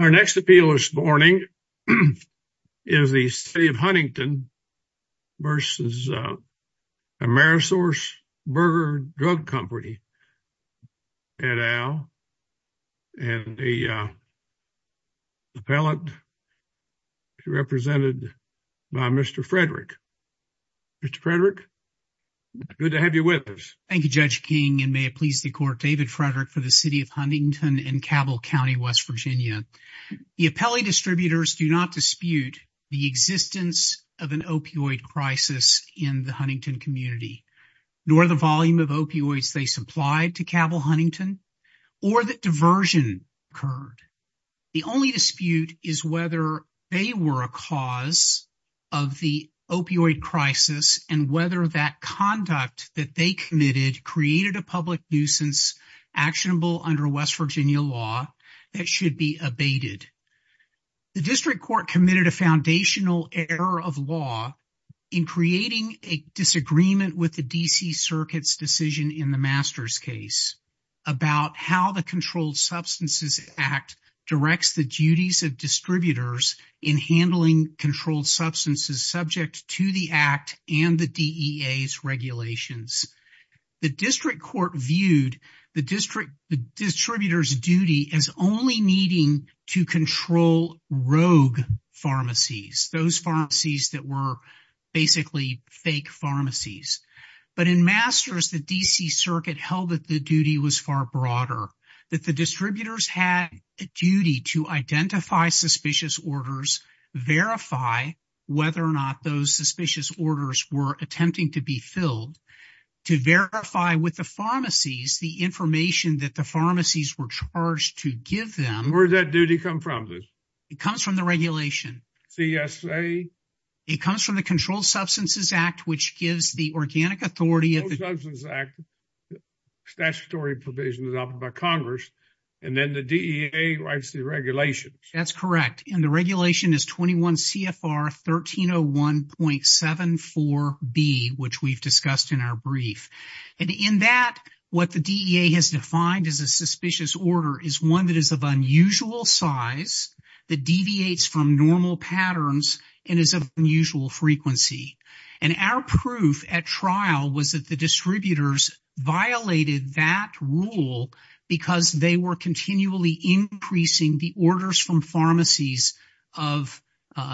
Our next appeal this morning is the City of Huntington v. Amerisourcebergen Drug Company et al. And the appellate is represented by Mr. Frederick. Mr. Frederick, good to have you with us. Thank you, Judge King, and may it please the court, David Frederick for the City of Huntington and Cabell County, West Virginia. The appellate distributors do not dispute the existence of an opioid crisis in the Huntington community, nor the volume of opioids they supplied to Cabell Huntington or that diversion occurred. The only dispute is whether they were a cause of the opioid crisis and whether that conduct that they committed created a public nuisance actionable under West Virginia law that should be abated. The district court committed a foundational error of law in creating a disagreement with the D.C. Circuit's decision in the Masters case about how the Controlled Substances Act directs the duties of distributors in handling controlled substances subject to the Act and the DEA's regulations. The district court viewed the distributors' duty as only needing to control rogue pharmacies, those pharmacies that were basically fake pharmacies. But in Masters, the D.C. Circuit held that the duty was far broader, that the distributors had a duty to identify suspicious orders, verify whether or not those that the pharmacies were charged to give them. Where does that duty come from, please? It comes from the regulation. CSA? It comes from the Controlled Substances Act, which gives the organic authority of the statutory provisions of Congress, and then the DEA writes the regulations. That's correct, and the regulation is 21 CFR 1301.74B, which we've discussed in our brief. And in that, what the DEA has defined as a suspicious order is one that is of unusual size, that deviates from normal patterns, and is of unusual frequency. And our proof at trial was that the distributors violated that rule because they were continually increasing the orders from pharmacies of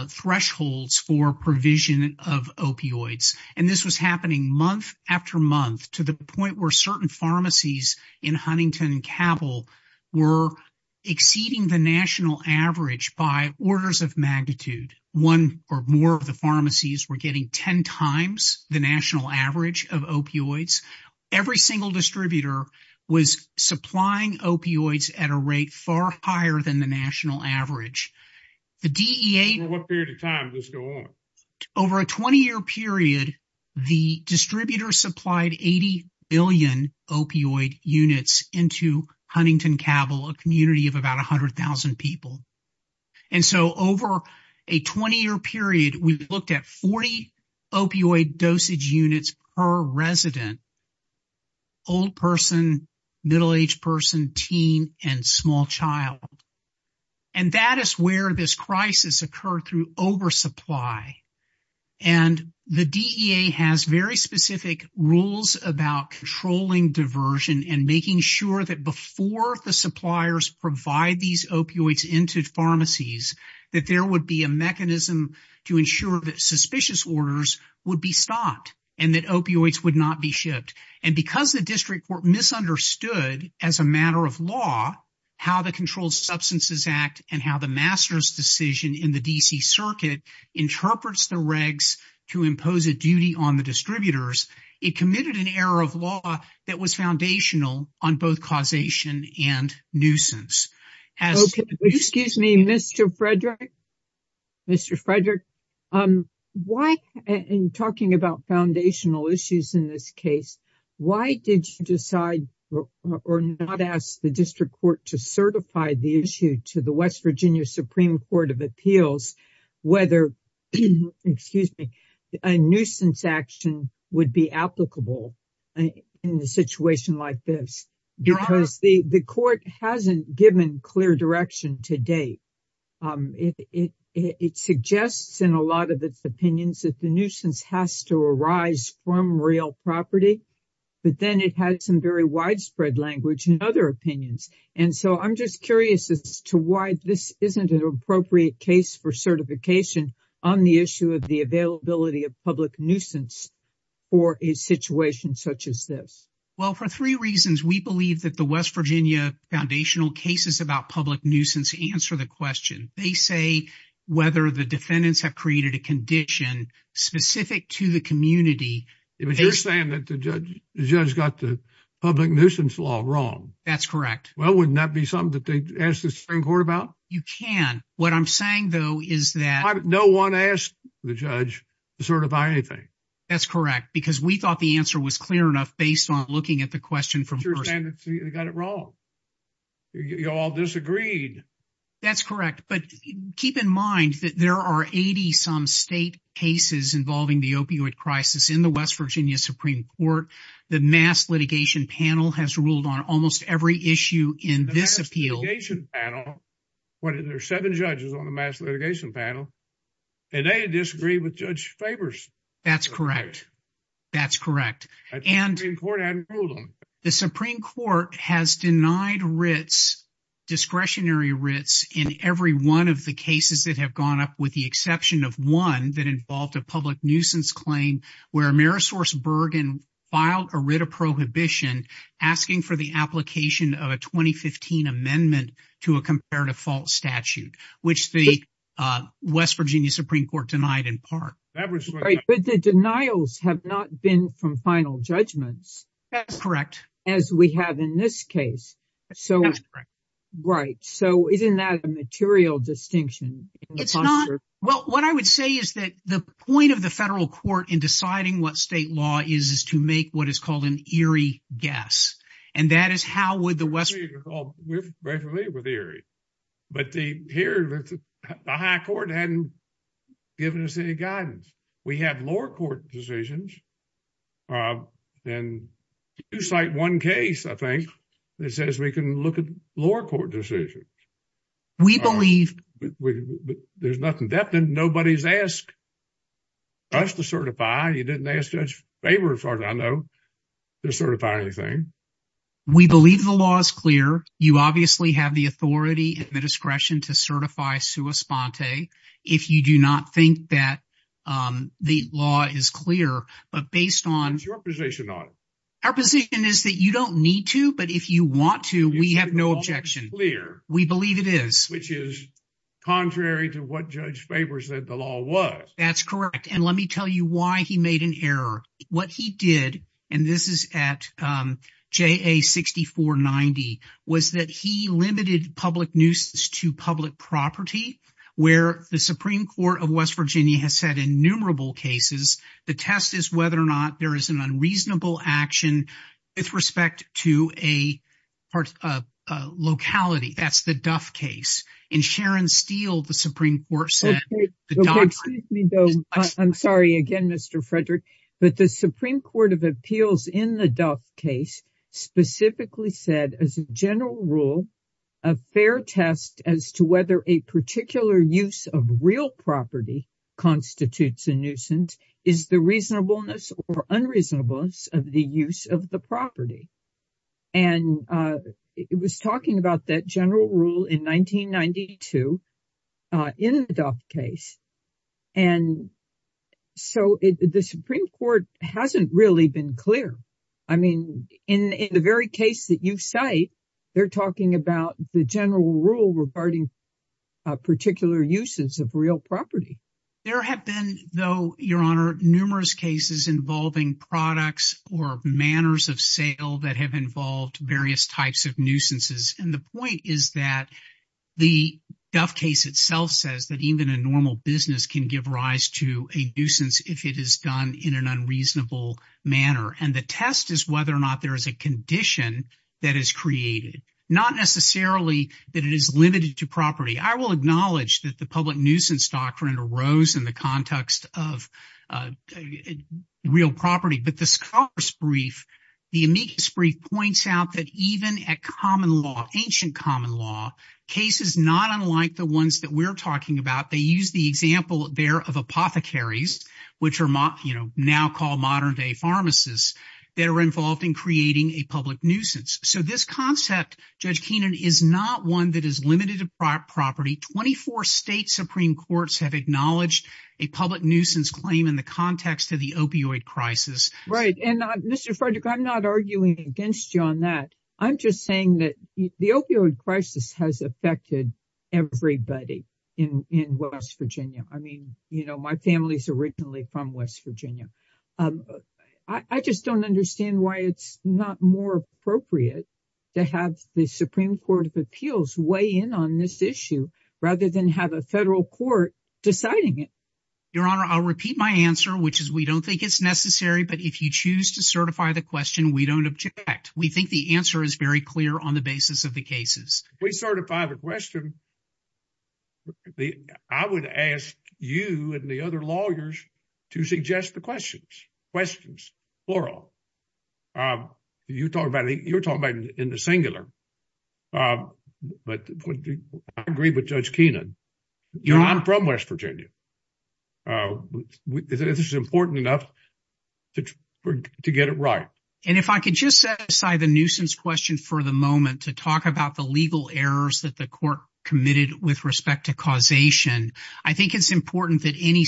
thresholds for provision of opioids. And this was happening month after month, to the point where certain pharmacies in Huntington and Cabell were exceeding the national average by orders of magnitude. One or more of the pharmacies were getting 10 times the national average of opioids. Every single distributor was supplying opioids at a rate far higher than the national average. The DEA... For what period of time does this go on? Over a 20-year period, the distributors supplied 80 billion opioid units into Huntington Cabell, a community of about 100,000 people. And so over a 20-year period, we've looked at 40 opioid dosage units per resident, old person, middle-aged person, teen, and small child. And that is where this crisis occurred through oversupply. And the DEA has very specific rules about controlling diversion and making sure that before the suppliers provide these opioids into pharmacies, that there would be a mechanism to ensure that suspicious orders would be stopped and that opioids would not be shipped. And because the district misunderstood, as a matter of law, how the Controlled Substances Act and how the master's decision in the D.C. Circuit interprets the regs to impose a duty on the distributors, it committed an error of law that was foundational on both causation and nuisance. Excuse me, Mr. Frederick. Mr. Frederick, why, in talking about foundational issues in this case, why did you decide or not ask the district court to certify the issue to the West Virginia Supreme Court of Appeals whether, excuse me, a nuisance action would be applicable in a situation like this? Because the court hasn't given clear direction to date. It suggests in a lot of its opinions that the nuisance has to arise from real property, but then it has some very widespread language in other opinions. And so, I'm just curious as to why this isn't an appropriate case for certification on the issue of the availability of public nuisance for a situation such as this. Well, for three reasons, we believe that the West Virginia foundational cases about public nuisance answer the question. They say whether the defendants have created a condition specific to the community. If you're saying that the judge got the public nuisance law wrong. That's correct. Well, wouldn't that be something that they ask the Supreme Court about? You can. What I'm saying, though, is that. No one asked the judge to certify anything. That's correct, because we thought the answer was clear enough based on looking at the question from. They got it wrong. You all disagreed. That's correct. But keep in mind that there are 80 some state cases involving the opioid crisis in the West Virginia Supreme Court. The mass litigation panel has ruled on almost every issue in this appeal. What is there? Seven judges on the mass litigation panel. And they disagree with Judge Faber's. That's correct. That's correct. And important. The Supreme Court has denied writs, discretionary writs in every one of the cases that have gone up, with the exception of one that involved a public nuisance claim where Amerisource Bergen filed a writ of prohibition asking for the application of a 2015 amendment to a comparative fault statute, which the West Virginia Supreme Court denied in that case. But the denials have not been from final judgments. That's correct. As we have in this case. So it's right. So it is not a material distinction. It's not. Well, what I would say is that the point of the federal court in deciding what state law is, is to make what is called an eerie guess. And that is how would the West Virginia Supreme Court. We're very relieved with the eerie. But here, the high court hadn't given us any guidance. We have lower court decisions. And you cite one case, I think, that says we can look at lower court decisions. We believe. There's nothing depth in. Nobody's asked us to certify. You didn't ask Judge Faber, as far as I know, to certify anything. We believe the law is clear. You obviously have the authority and the discretion to certify sua sponte. If you do not think that the law is clear, but based on your position on our position is that you don't need to. But if you want to, we have no objection here. We believe it is, which is contrary to what Judge Faber said the law was. That's correct. And let me tell you why he made an error. What he did, and this is at J.A. 6490, was that he limited public news to public property, where the Supreme Court of West Virginia has had innumerable cases. The test is whether or not there is an unreasonable action with respect to a part of locality. That's the the Supreme Court of appeals in the Duff case specifically said as a general rule, a fair test as to whether a particular use of real property constitutes a nuisance is the reasonableness or unreasonableness of the use of the property. And it was talking about that general rule in 1992 in the Duff case. And so the Supreme Court hasn't really been clear. I mean, in the very case that you cite, they're talking about the general rule regarding particular uses of real property. There have been, though, numerous cases involving products or manners of sale that have involved various types of nuisances. And the point is that the Duff case itself says that even a normal business can give rise to a nuisance if it is done in an unreasonable manner. And the test is whether or not there is a condition that is created, not necessarily that it is limited to property. I will acknowledge that the public nuisance doctrine arose in the context of real property. But the scholar's brief, the amicus brief, points out that even at common law, ancient common law, cases not unlike the ones that we're talking about, they use the example there of apothecaries, which are now called modern day pharmacists, that are involved in creating a public nuisance. So this concept, Judge Keenan, is not one that is limited to property. Twenty-four state Supreme Courts have acknowledged a public nuisance claim in the context of the opioid crisis. Right. And Mr. Frederick, I'm not arguing against you on that. I'm just saying that the opioid crisis has affected everybody in West Virginia. I mean, you know, my family's originally from West Virginia. And I think it's appropriate to have the Supreme Court of Appeals weigh in on this issue rather than have a federal court deciding it. Your Honor, I'll repeat my answer, which is we don't think it's necessary. But if you choose to certify the question, we don't object. We think the answer is very clear on the basis of the cases. If we certify the question, I would ask you and the other lawyers to suggest the questions. Questions, plural. You're talking about it in the singular. But I agree with Judge Keenan. You're not from West Virginia. This is important enough to get it right. And if I could just set aside the nuisance question for the moment to talk about the legal errors that the court committed with respect to causation. I think it's important that any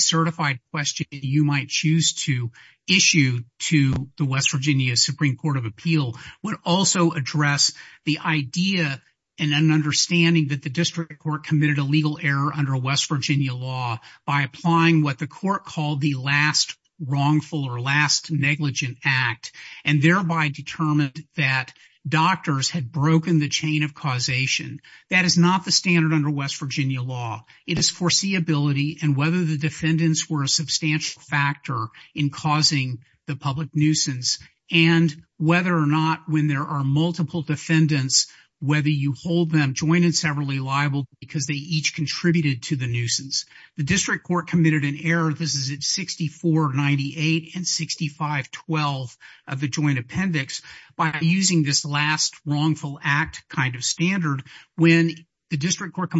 West Virginia Supreme Court of Appeals would also address the idea and an understanding that the district court committed a legal error under West Virginia law by applying what the court called the last wrongful or last negligent act and thereby determined that doctors had broken the chain of causation. That is not the standard under West Virginia law. It is foreseeability and whether the defendants were a substantial factor in causing the public nuisance and whether or not when there are multiple defendants, whether you hold them joint and severally liable because they each contributed to the nuisance. The district court committed an error. This is at 6498 and 6512 of the joint appendix by using this last wrongful act kind of standard when the district court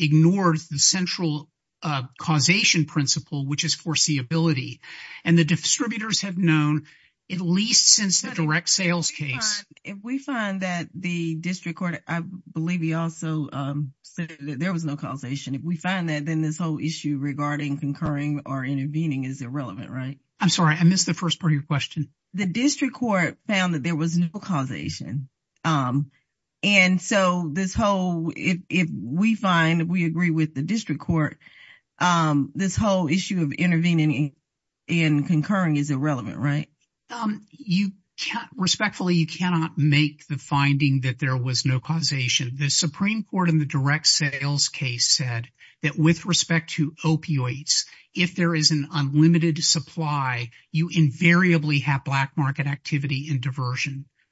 ignored the central causation principle which is foreseeability and the distributors have known at least since the direct sales case. If we find that the district court, I believe he also said that there was no causation. If we find that then this whole issue regarding concurring or intervening is irrelevant, right? I'm sorry I missed the first part of your question. The district court found there was no causation. If we find that we agree with the district court, this whole issue of intervening and concurring is irrelevant, right? Respectfully, you cannot make the finding that there was no causation. The Supreme Court in the direct sales case said that with respect to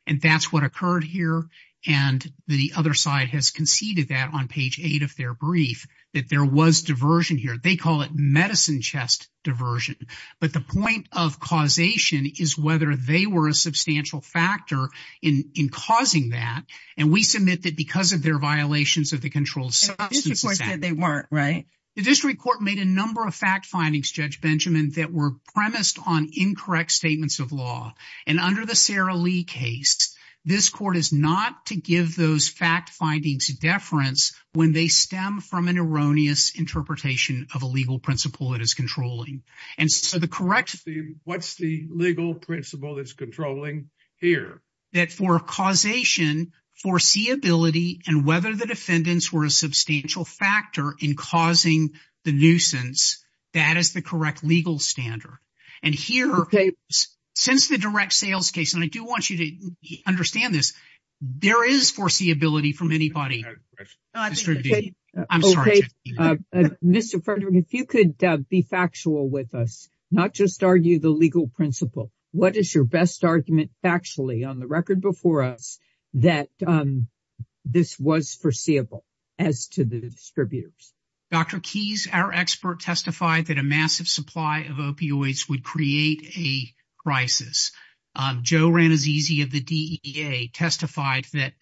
and that's what occurred here and the other side has conceded that on page eight of their brief that there was diversion here. They call it medicine chest diversion but the point of causation is whether they were a substantial factor in in causing that and we submit that because of their violations of the control. The district court said they weren't, right? The district court made a number of fact findings, Judge Benjamin, that were premised on incorrect statements of law and under the Sarah Lee case, this court is not to give those fact findings deference when they stem from an erroneous interpretation of a legal principle that is controlling and so the correct what's the legal principle that's controlling here that for causation foreseeability and whether the defendants were a substantial factor in causing the nuisance that is the correct legal standard and here since the direct sales case and I do want you to understand this there is foreseeability from anybody. Mr. Frederick, if you could be factual with us not just argue the legal principle what is your best argument factually on the record before us that this was foreseeable as to the distributors? Dr. Keyes, our expert, testified that a massive supply of opioids would create a crisis. Joe Ranazzesi of the DEA testified that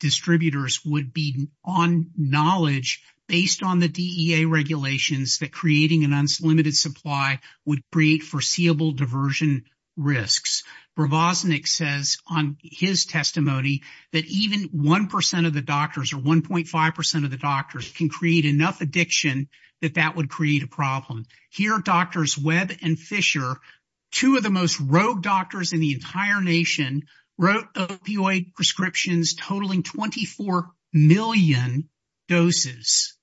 distributors would be on knowledge based on the DEA regulations that creating an unlimited supply would create foreseeable diversion risks. Bravosnik says on his testimony that even one percent of the doctors or 1.5 percent of the doctors can create enough addiction that that would create a problem. Here Drs. Webb and Fisher, two of the most rogue doctors in the entire nation, wrote opioid prescriptions totaling 24 million doses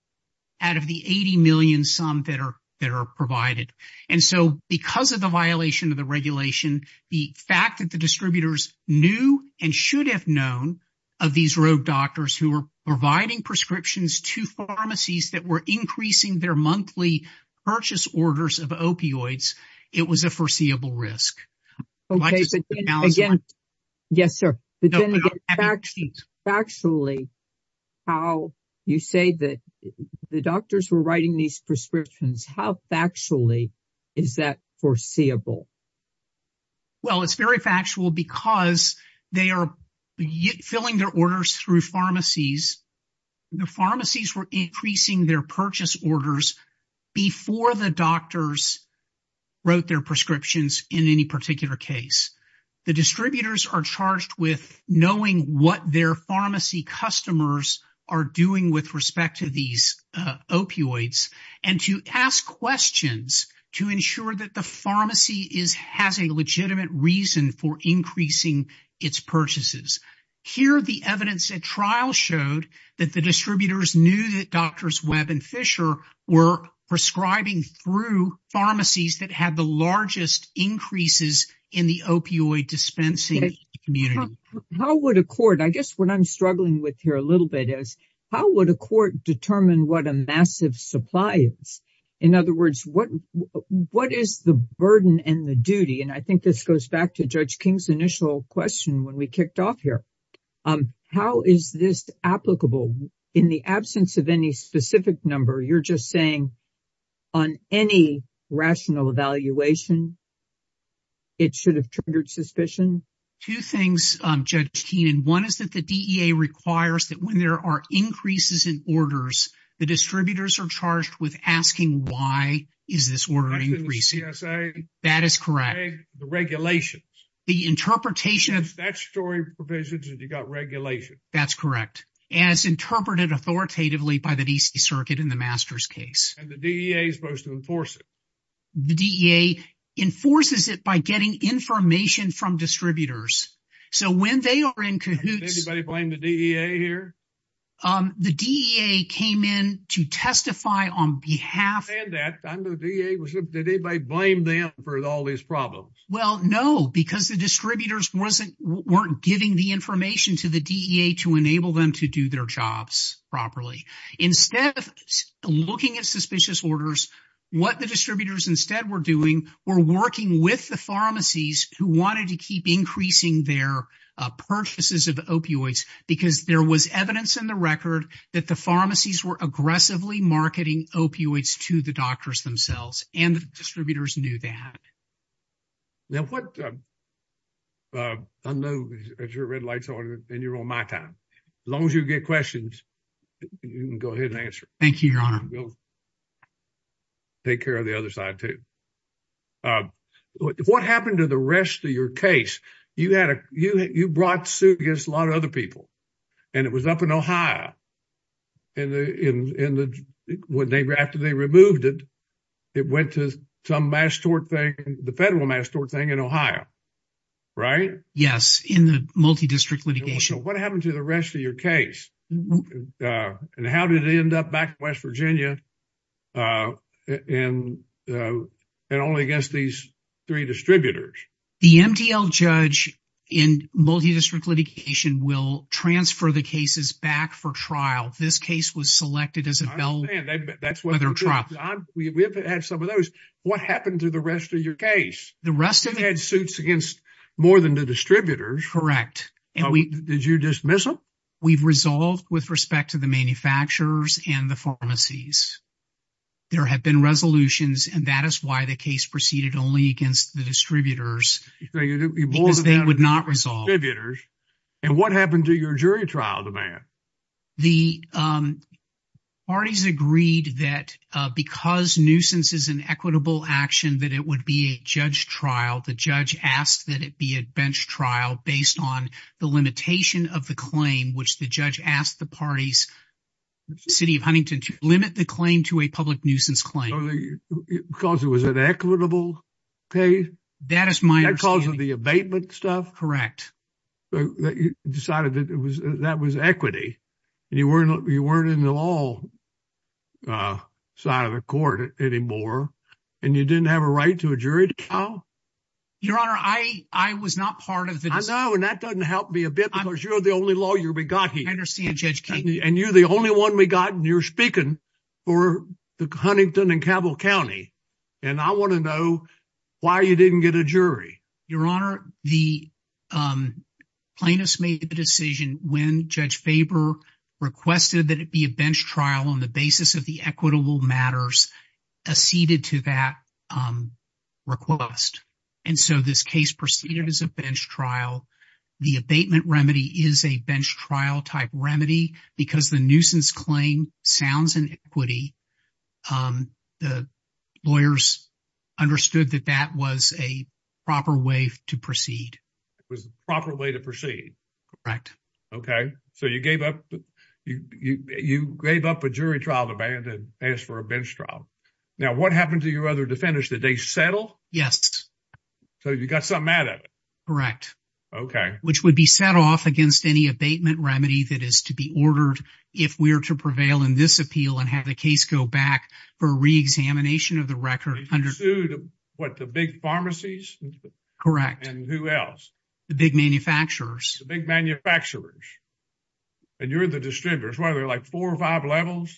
out of the 80 million some that are that are provided and so because of the violation of the regulation the fact that the distributors knew and should have known of these rogue doctors who were providing prescriptions to pharmacies that were increasing their monthly purchase orders of opioids it was a foreseeable risk. Okay, but again yes sir but then factually how you say that the doctors were writing these prescriptions how factually is that foreseeable? Well it's very factual because they are filling their orders through pharmacies. The pharmacies were increasing their purchase orders before the doctors wrote their prescriptions in any particular case. The distributors are charged with knowing what their pharmacy customers are doing with respect to these opioids and to ask questions to ensure that the pharmacy is has a legitimate reason for increasing its purchases. Here the evidence at trial showed that the distributors knew that Drs. Webb and Fisher were prescribing through pharmacies that have the largest increases in the opioid dispensing community. How would a court I guess what I'm struggling with here a little bit is how would a court determine what a massive supply is? In other words what what is the burden and the duty and I think this goes back to Judge King's initial question when we kicked off here. How is this applicable in the absence of any specific number? You're just saying on any rational evaluation it should have triggered suspicion? Two things Judge Keenan. One is that the DEA requires that when there are increases in orders the distributors are charged with asking why is this order increasing? That is correct. The regulations. The interpretation. That story provisions you got regulations. That's correct as interpreted authoritatively by the DC circuit in the master's case. And the DEA is supposed to enforce it? The DEA enforces it by getting information from distributors. So when they are in cahoots. Did anybody blame the DEA here? The DEA came in to testify on behalf. I understand that. I'm the DEA. Did anybody blame them for all these problems? Well no because the distributors weren't giving the information to the DEA to enable them to do their jobs properly. Instead looking at suspicious orders. What the distributors instead were doing were working with the pharmacies who wanted to keep increasing their purchases of opioids because there was evidence in the record that the pharmacies were aggressively marketing opioids to the unknown. As your red lights on and you're on my time. As long as you get questions you can go ahead and answer. Thank you your honor. Take care of the other side too. What happened to the rest of your case? You had a you you brought suit against a lot of other people and it was up in Ohio and the in in the when they after they moved it it went to some mass store thing the federal mass store thing in Ohio right? Yes in the multi-district litigation. What happened to the rest of your case and how did it end up back in West Virginia and only against these three distributors? The MDL judge in multi-district litigation will transfer the cases back for trial. This case was selected as a bell that's why they're trapped. We've had some of those. What happened to the rest of your case? The rest of it had suits against more than the distributors. Correct. Did you dismiss them? We've resolved with respect to the manufacturers and the pharmacies. There have been resolutions and that is why the case proceeded only against the distributors. You both would not resolve. And what happened to your jury trial? The parties agreed that because nuisance is an equitable action that it would be a judge trial. The judge asked that it be a bench trial based on the limitation of the claim which the judge asked the parties city of Huntington to limit the claim to a public nuisance claim. Because it was an equitable case? That is my opinion. Because of the abatement stuff? Correct. So you decided that was equity and you weren't in the law side of the court anymore and you didn't have a right to a jury trial? Your honor, I was not part of this. I know and that doesn't help me a bit because you're the only lawyer we got here. I understand Judge King. And you're the only one we got and you're speaking for the Huntington and Cabell County. And I want to know why you didn't get a jury? Your honor, the plaintiffs made the decision when Judge Faber requested that it be a bench trial on the basis of the equitable matters acceded to that request. And so this case proceeded as a bench trial. The abatement remedy is a bench trial type remedy because the nuisance claim sounds in equity. The lawyers understood that that was a proper way to proceed. It was a proper way to proceed? Correct. Okay. So you gave up a jury trial of abatement and asked for a bench trial. Now what happened to your other defenders? Did they settle? Yes. So you got something out of it? Correct. Okay. Which would be set off against any abatement remedy that is to be ordered if we are to prevail in this appeal and have the case go back for re-examination of the record? What, the big pharmacies? Correct. And who else? The big manufacturers. The big manufacturers. And you're the distributors. What, are there like four or five levels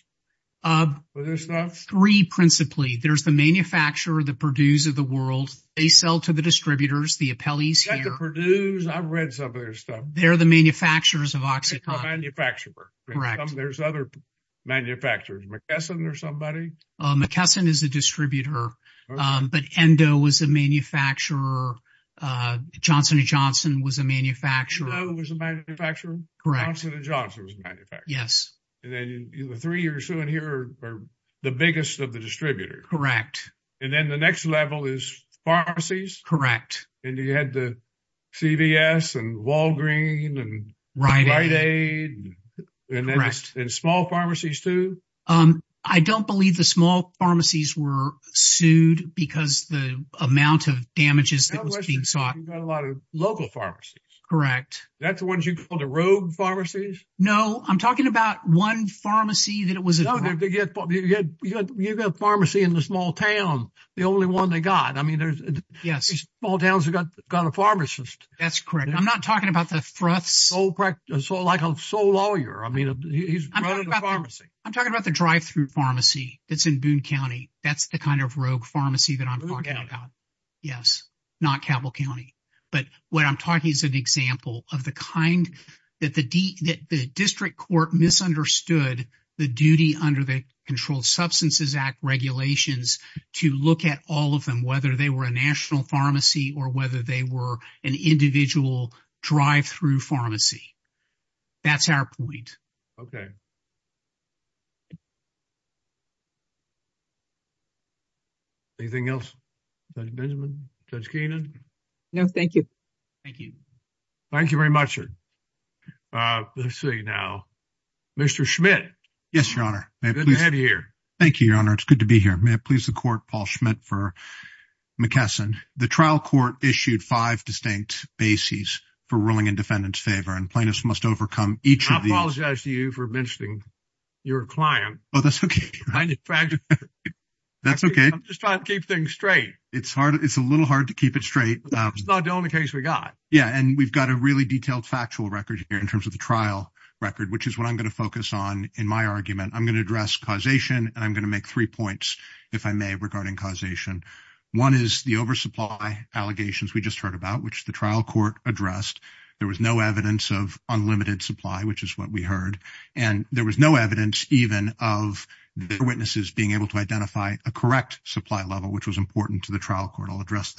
for this stuff? Three principally. There's the manufacturer, the Purdue's of the world. They sell to the distributors, the appellees here. I've read some of their stuff. They're the manufacturers of OxyContin. A manufacturer. Correct. There's other manufacturers, McKesson or somebody? McKesson is a distributor, but Endo was a manufacturer. Johnson & Johnson was a manufacturer. Endo was a manufacturer? Correct. Johnson & Johnson was a manufacturer. Yes. And then the three you're showing here are the biggest of the distributors. Correct. And then the next level is pharmacies? Correct. And you had the CVS and Walgreens and Rite Aid. Correct. And small pharmacies too? I don't believe the small pharmacies were sued because the amount of damages that was being sought. You've got a lot of local pharmacies. Correct. That's the ones you call the rogue pharmacies? No, I'm talking about one pharmacy that was- You've got a pharmacy in a small town. The only one they got. I mean, there's small towns that got a pharmacist. That's correct. I'm not talking about the front sole lawyer. I'm talking about the drive-through pharmacy that's in Boone County. That's the kind of rogue pharmacy that I'm talking about. Yes. Not Cabell County. But what I'm talking is an example of the kind that the district court misunderstood the duty under the Controlled Substances Act regulations to look at all of them, whether they were a national pharmacy or whether they were an individual drive-through pharmacy. That's our point. Okay. Anything else? Judge Benjamin? Judge Keenan? No, thank you. Thank you. Thank you very much. Let's see now. Mr. Schmidt? Yes, Your Honor. It's good to have you here. Thank you, Your Honor. It's good to be here. May it please the court, Paul Schmidt for McKesson. The trial court issued five distinct bases for ruling in defendant's favor and plaintiffs must overcome each of the- I apologize to you for mentioning your client. Oh, that's okay. I'm just trying to keep things straight. It's hard. It's a little hard to keep it straight. It's not the only case we got. Yeah, and we've got a really detailed factual record here in terms of the trial record, which is what I'm going to focus on in my argument. I'm going to address causation, and I'm going to make three points, if I may, regarding causation. One is the oversupply allegations we just heard about, which the trial court addressed. There was no evidence of unlimited supply, which is what we heard, and there was no evidence even of their witnesses being able to identify a correct supply level, which was important to the trial court. I'll address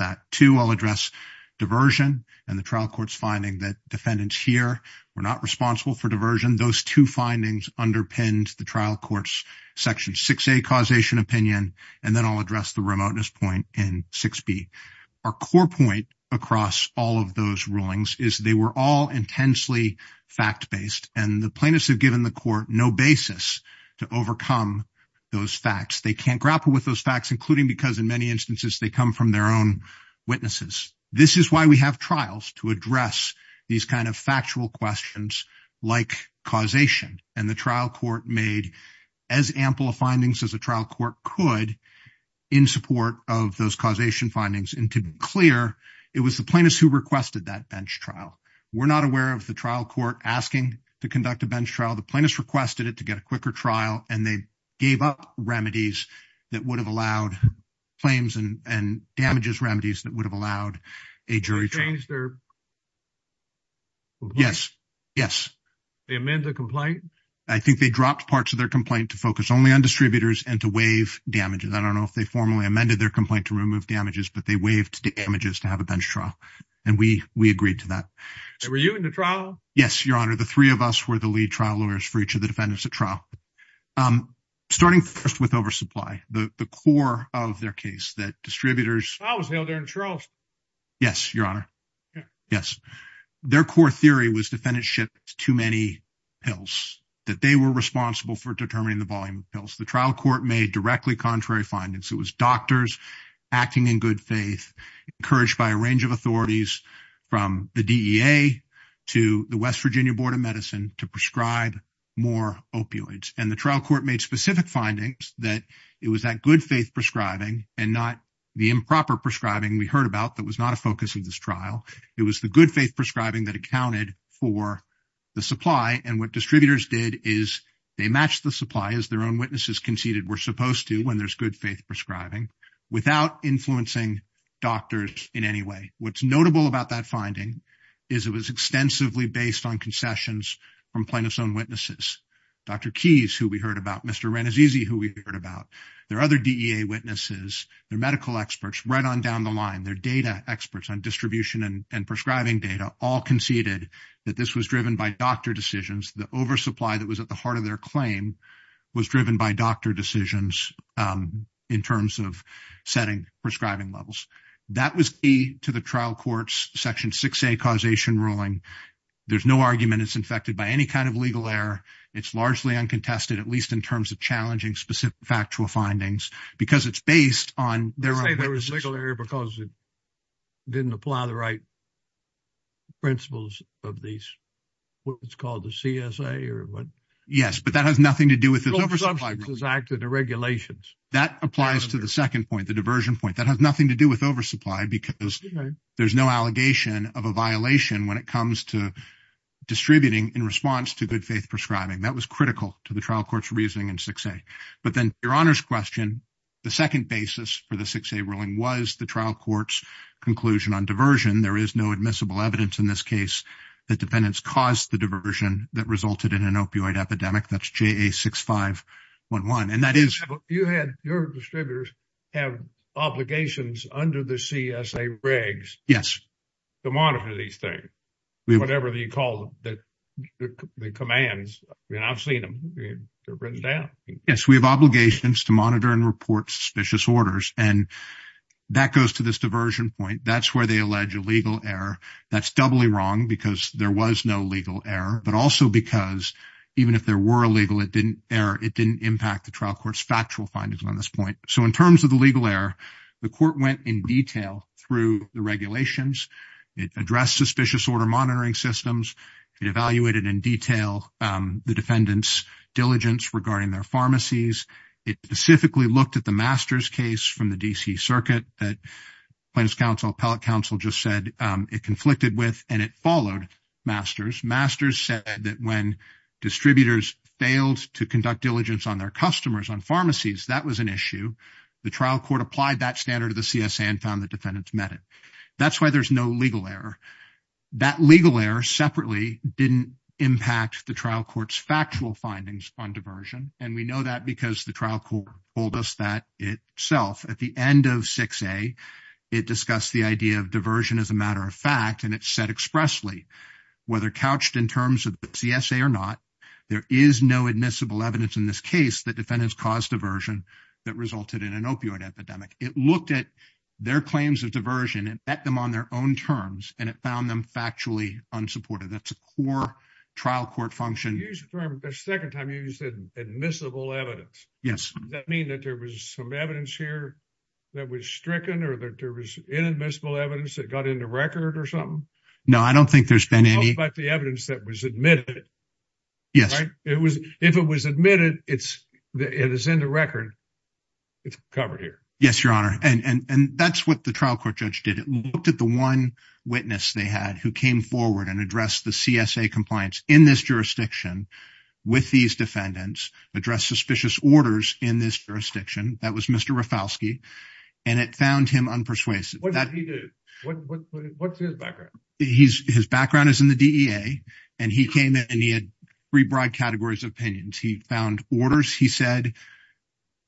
diversion and the trial court's finding that defendants here were not responsible for diversion. Those two findings underpinned the trial court's section 6A causation opinion, and then I'll address the remoteness point in 6B. Our core point across all of those rulings is they were all intensely fact-based, and the plaintiffs have given the court no basis to overcome those facts. They can't grapple with those facts, including because in many instances they come from their own witnesses. This is why we have trials to address these kind of factual questions like causation, and the trial court made as ample findings as the trial court could in support of those causation findings, and to be clear, it was the plaintiffs who requested that bench trial. We're not aware of the trial court asking to conduct a bench trial. The plaintiffs requested it to get a quicker trial, and they gave up remedies that would have allowed claims and damages remedies that would have allowed a jury trial. Yes, yes. They amended the complaint? I think they dropped parts of their complaint to focus only on distributors and to waive damages. I don't know if they formally amended their complaint to remove damages, but they waived the damages to have a bench trial, and we agreed to that. And were you in the trial? Yes, Your Honor, the three of us were the lead trial lawyers for each of the defendants at trial. Starting first with oversupply, the core of their case that distributors... I was there during the trial. Yes, Your Honor. Yes. Their core theory was defendants shipped too many pills, that they were responsible for determining the volume of pills. The trial court made directly contrary findings. It was doctors acting in good faith, encouraged by a range of authorities from the DEA to the West Virginia Board of Medicine to prescribe more opioids. And the trial court made specific findings that it was that good faith prescribing and not the improper prescribing we heard about that was not a focus of this trial. It was the good faith prescribing that accounted for the supply, and what distributors did is they matched the supply as their own witnesses conceded were supposed to when there's good faith prescribing without influencing doctors in any way. What's notable about that finding is it was extensively based on concessions from plaintiff's own witnesses. Dr. Keyes, who we heard about, Mr. Renizzisi, who we heard about, their other DEA witnesses, their medical experts right on down the line, their data experts on distribution and prescribing data all conceded that this was driven by doctor decisions. The oversupply that was at the heart of their claim was driven by doctor decisions in terms of setting prescribing levels. That was a to the trial court's section 6A causation ruling. There's no argument it's infected by any kind of legal error. It's largely uncontested, at least in terms of challenging specific factual findings, because it's based on... There was legal error because it didn't apply the right principles of these, what was called the CSA or what? Yes, but that has nothing to do with this oversupply. It was acted on regulations. That applies to the second point, the diversion point. That has nothing to do with oversupply because there's no allegation of a violation when it comes to distributing in response to good faith prescribing. That was critical to the trial court's reasoning in 6A. But then your honor's question, the second basis for the 6A ruling was the trial court's conclusion on diversion. There is no admissible evidence in this case that defendants caused the diversion that resulted in an opioid epidemic. That's JA6511. You had your distributors have obligations under the CSA regs to monitor these things, whatever you call them, the commands. I've seen them. They're written down. Yes, we have obligations to monitor and report suspicious orders. That goes to this diversion point. That's where they allege a legal error. That's doubly wrong because there was no legal error, but also because even if there were a legal error, it didn't impact the trial court's factual findings on this point. In terms of the legal error, the court went in detail through the regulations. It addressed suspicious order monitoring systems. It evaluated in detail the defendant's diligence regarding their pharmacies. It specifically looked at the Masters case from the D.C. Circuit that Appellate Counsel just said it conflicted with, and it followed Masters. Masters said that when distributors failed to conduct diligence on their customers on pharmacies, that was an issue. The trial court applied that standard to the CSA and found that defendants met it. That's why there's no legal error. That legal error separately didn't impact the trial court's factual findings on diversion, and we know that because the trial court told us that itself. At the end of 6A, it discussed the idea of diversion as a matter of fact, and it said expressly whether couched in terms of the CSA or not, there is no admissible evidence in this case that defendants caused diversion that resulted in an opioid epidemic. It looked at their claims of diversion and met them on their own terms, and it found them factually unsupported. That's a core trial court function. The second time you said admissible evidence, does that mean that there was some evidence here that was stricken or that there was inadmissible evidence that got in the record or something? No, I don't think there's been any. I'm talking about the evidence that was admitted. Yes. If it was admitted and it's in the record, it's covered here. Yes, Your Honor, and that's what the trial court judge did. It looked at the one witness they had who came forward and addressed the CSA compliance in this jurisdiction with these defendants, addressed suspicious orders in this jurisdiction. That was Mr. Rafalski, and it found him unpersuasive. What did he do? What's his background? His background is in the DEA, and he came in and he had three broad categories of opinions. He found orders, he said,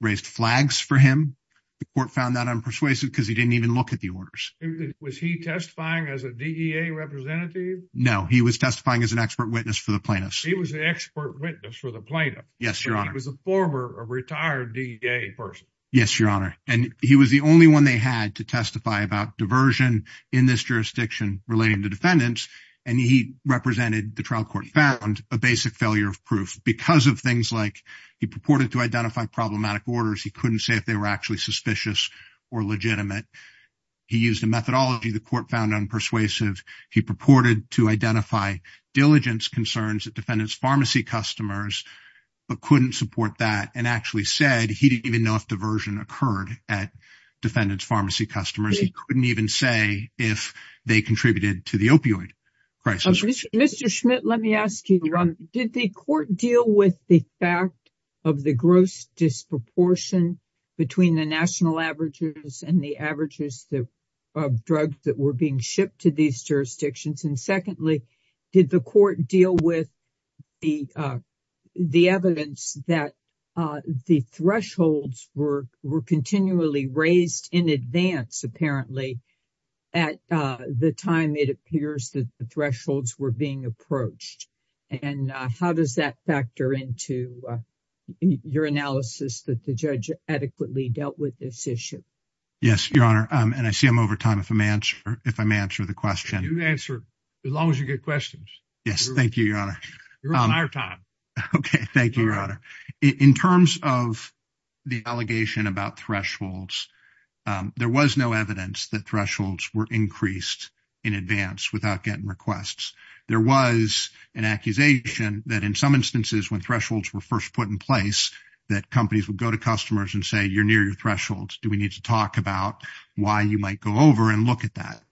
raised flags for him. The court found that unpersuasive because he didn't even look at the orders. Was he testifying as a DEA representative? No, he was testifying as an expert witness for the plaintiffs. He was an expert witness for the plaintiffs. Yes, Your Honor. He was a former retired DEA person. Yes, Your Honor, and he was the only one they had to testify about diversion in this jurisdiction relating to defendants, and he represented the trial court. He found a basic failure of proof because of things like he purported to identify problematic orders. He couldn't say if they were actually suspicious or legitimate. He used a methodology the court found unpersuasive. He purported to identify diligence concerns that defendants pharmacy customers, but couldn't support that, and actually said he didn't even know if diversion occurred at defendants pharmacy customers. He couldn't even say if they contributed to the opioid crisis. Mr. Schmidt, let me ask you, Your Honor, did the court deal with the fact of the gross disproportion between the national averages and the averages of drugs that were being shipped to these jurisdictions? And secondly, did the court deal with the evidence that the thresholds were continually raised in advance, apparently, at the time it appears that the thresholds were being approached? And how does that factor into your analysis that the judge adequately dealt with this issue? Yes, Your Honor, and I see I'm over time if I may answer the question. You can answer as long as you get questions. Yes, thank you, Your Honor. Your entire time. Okay, thank you, Your Honor. In terms of the allegation about thresholds, there was no evidence that thresholds were increased in advance without getting requests. There was an accusation that in some instances when thresholds were first put in place that companies would go to customers and say you're thresholds, do we need to talk about why you might go over and look at that?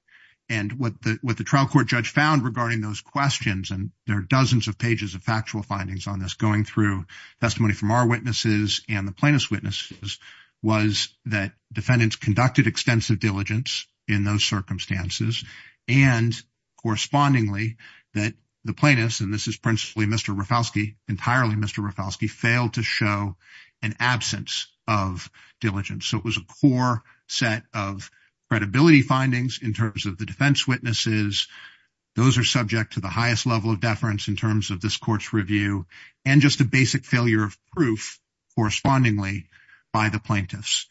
And what the trial court judge found regarding those questions, and there are dozens of pages of factual findings on this going through testimony from our witnesses and the plaintiff's witnesses, was that defendants conducted extensive diligence in those circumstances and correspondingly that the plaintiffs, and this was a core set of credibility findings in terms of the defense witnesses. Those are subject to the highest level of deference in terms of this court's review and just a basic failure of proof correspondingly by the plaintiffs.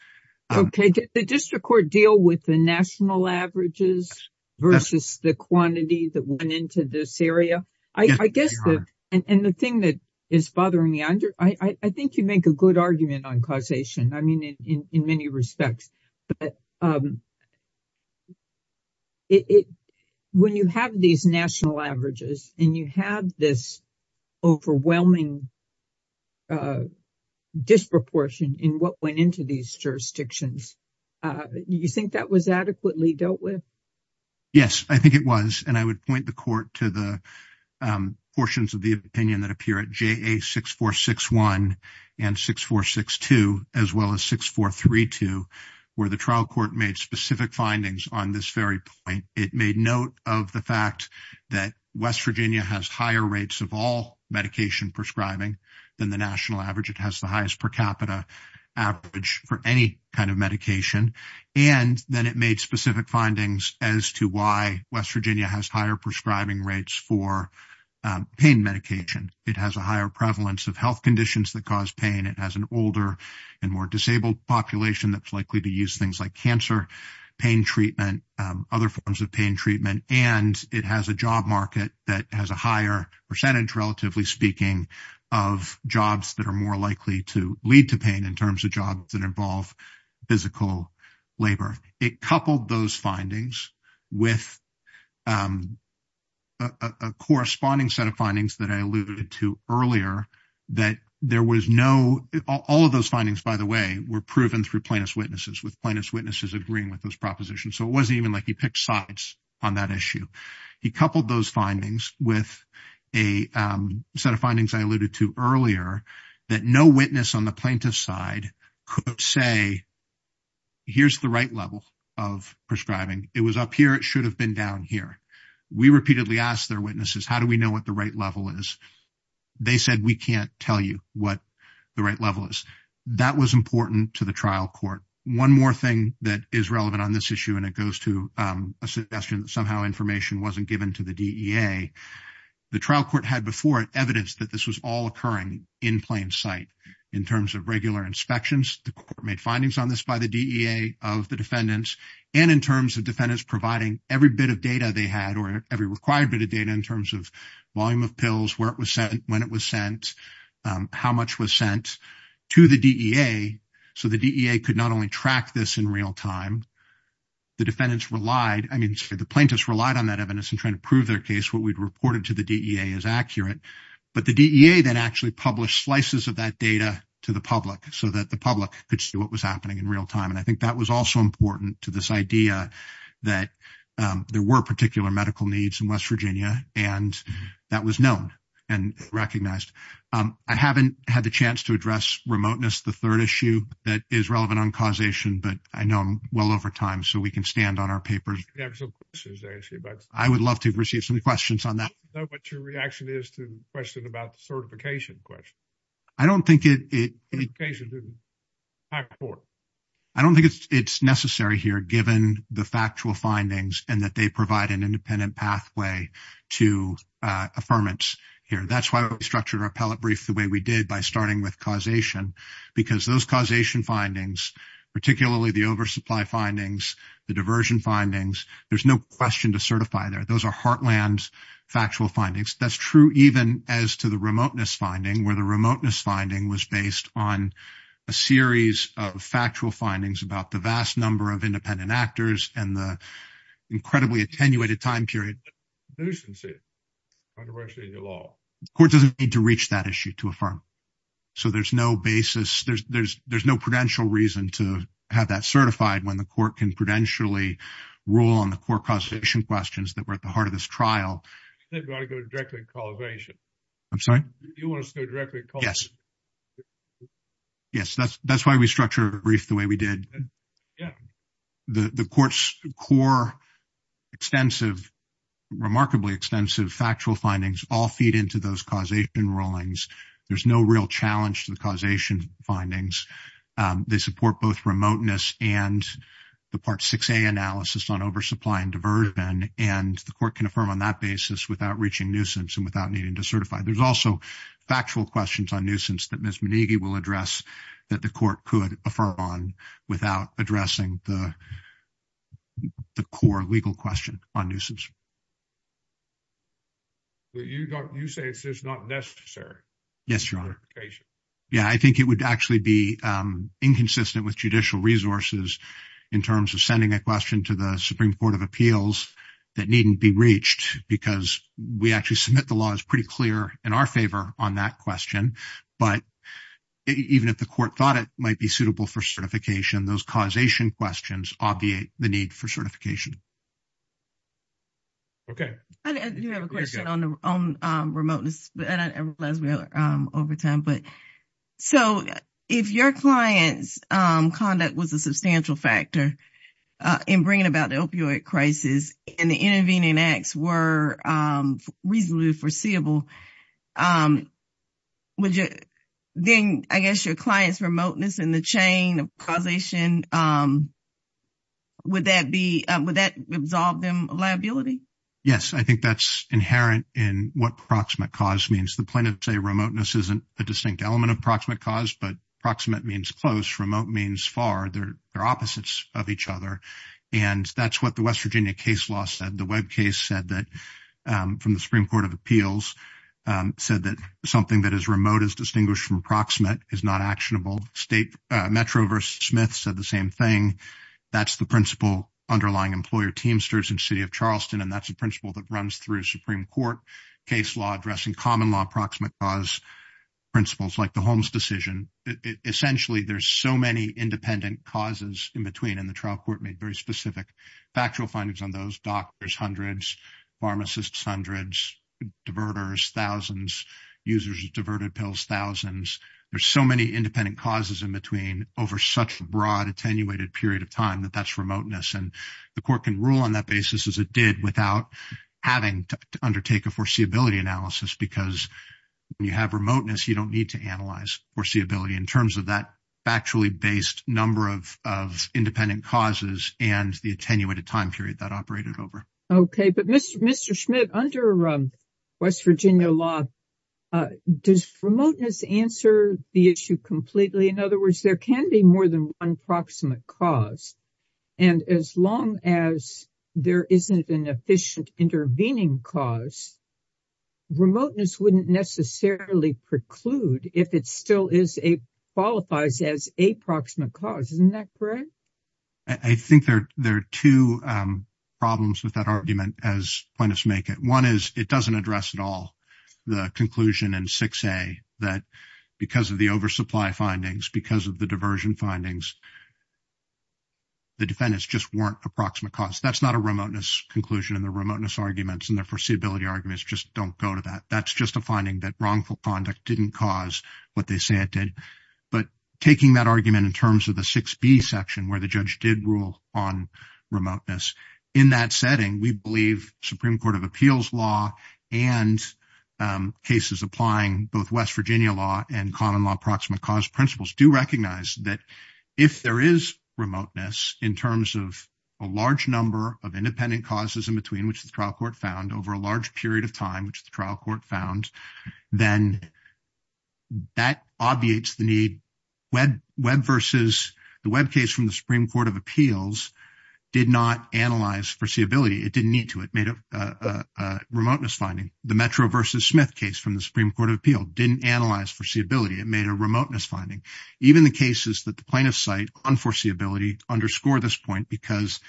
Okay, did the district court deal with the national averages versus the quantities that went into this area? I guess, and the thing that is bothering me, I think you make a good argument on causation, I mean, in many respects. When you have these national averages and you have this overwhelming disproportion in what went into these jurisdictions, you think that was adequately dealt with? Yes, I think it was, and I would point the court to the opinion that appear at JA 6461 and 6462, as well as 6432, where the trial court made specific findings on this very point. It made note of the fact that West Virginia has higher rates of all medication prescribing than the national average. It has the highest per capita average for any kind of medication, and then it made specific findings as to why West Virginia has higher prescribing rates for pain medication. It has a higher prevalence of health conditions that cause pain. It has an older and more disabled population that's likely to use things like cancer, pain treatment, other forms of pain treatment, and it has a job market that has a higher percentage, relatively speaking, of jobs that are more likely to lead to pain in terms of jobs that involve physical labor. It coupled those findings with a corresponding set of findings that I alluded to earlier, that there was no, all of those findings, by the way, were proven through plaintiff's witnesses, with plaintiff's witnesses agreeing with those propositions, so it wasn't even like he picked sides on that issue. He coupled those findings with a set of findings I alluded to earlier, that no witness on the plaintiff's side could say, here's the right level of prescribing. It was up here. It should have been down here. We repeatedly asked their witnesses, how do we know what the right level is? They said, we can't tell you what the right level is. That was important to the trial court. One more thing that is relevant on this issue, and it goes to a suggestion that somehow information wasn't given to the DEA, the trial court had before it evidence that this was all occurring in plain sight. In terms of regular inspections, the court made findings on this by the DEA of the defendants, and in terms of defendants providing every bit of data they had, or every required bit of data in terms of volume of pills, where it was sent, when it was sent, how much was sent to the DEA, so the DEA could not only track this in real time, the defendants relied, I mean, the plaintiffs relied on that evidence in trying to prove their accurate, but the DEA then actually published slices of that data to the public so that the public could see what was happening in real time, and I think that was also important to this idea that there were particular medical needs in West Virginia, and that was known and recognized. I haven't had the chance to address remoteness, the third issue that is relevant on causation, but I know I'm well over time, so we can stand on our paper. I would love to receive some questions on that. I don't know what your reaction is to the question about the certification question. I don't think it's necessary here, given the factual findings and that they provide an independent pathway to affirmance here. That's why we structured our appellate brief the way we did by starting with causation, because those causation findings, particularly the oversupply findings, the diversion findings, there's no question to certify there. Those are heartland factual findings. That's true even as to the remoteness finding, where the remoteness finding was based on a series of factual findings about the vast number of independent actors and the incredibly attenuated time period. The court doesn't need to reach that issue to affirm, so there's no basis, there's no prudential reason to have that certified when the court can prudentially rule on the core causation questions that were at the heart of this trial. You want to go directly to causation? Yes, that's why we structured our brief the way we did. The court's core, remarkably extensive factual findings all feed into those causation rulings. There's no real challenge to the causation findings. They support both remoteness and the Part 6A analysis on oversupply and diversion, and the court can affirm on that basis without reaching nuisance and without needing to certify. There's also factual questions on nuisance that Ms. Monegi will address that the court could affirm on without addressing the core legal question on nuisance. You say it's just not necessary? Yes, Your Honor. Yes, I think it would actually be inconsistent with judicial resources in terms of sending a question to the Supreme Court of Appeals that needn't be reached because we actually submit the law as pretty clear in our favor on that question, but even if the court thought it might be suitable for certification, those causation questions obviate the need for certification. Okay. I do have a question on remoteness, and I realize we're over time, but so if your client's conduct was a substantial factor in bringing about the opioid crisis and the intervening acts were reasonably foreseeable, would you then, I guess, your client's remoteness in the chain of probation, would that absolve them of liability? Yes, I think that's inherent in what proximate cause means. The point of, say, remoteness isn't a distinct element of proximate cause, but proximate means close, remote means far. They're opposites of each other, and that's what the West Virginia case law said. The Webb case said that from the Supreme Court of Appeals said that something that is remote is distinguished from proximate, is not actionable. Metro v. Smith said the same thing. That's the principle underlying employer teamsters in the city of Charleston, and that's a principle that runs through a Supreme Court case law addressing common law proximate cause principles like the Holmes decision. Essentially, there's so many independent causes in between, and the trial court made very specific factual findings on those. Doctors, hundreds. Pharmacists, hundreds. Diverters, thousands. Users of diverted pills, thousands. There's so many independent causes in between over such a broad attenuated period of time that that's remoteness, and the court can rule on that basis as it did without having to undertake a foreseeability analysis because when you have remoteness, you don't need to analyze foreseeability in terms of that factually based number of independent causes and the attenuated time period that operated over. Okay, but Mr. Smith, under West Virginia law, does remoteness answer the issue completely? In other words, there can be more than one proximate cause, and as long as there isn't an efficient intervening cause, remoteness wouldn't necessarily preclude if it still qualifies as a proximate cause. Isn't that correct? I think there are two problems with that argument as plaintiffs make it. One is it doesn't address at all the conclusion in 6A that because of the oversupply findings, because of the diversion findings, the defendants just warrant a proximate cause. That's not a remoteness conclusion, and the remoteness arguments and the foreseeability arguments just don't go to that. That's just a finding that wrongful conduct didn't cause what they say it did, but taking that argument in terms of the 6B section where the judge did rule on remoteness, in that setting, we believe Supreme Court of Appeals law and cases applying both West Virginia law and common law proximate cause principles do recognize that if there is remoteness in terms of a large number of independent causes in between, which the trial court found over a large period of time, which the trial court found, then that obviates the need. Webb versus the Webb case from the Supreme Court of Appeals did not analyze foreseeability. It didn't need to. It made a remoteness finding. The Metro versus Smith case from the Supreme Court of Appeals didn't analyze foreseeability. It made a remoteness finding. Even the cases that the plaintiffs cite on foreseeability underscore this point because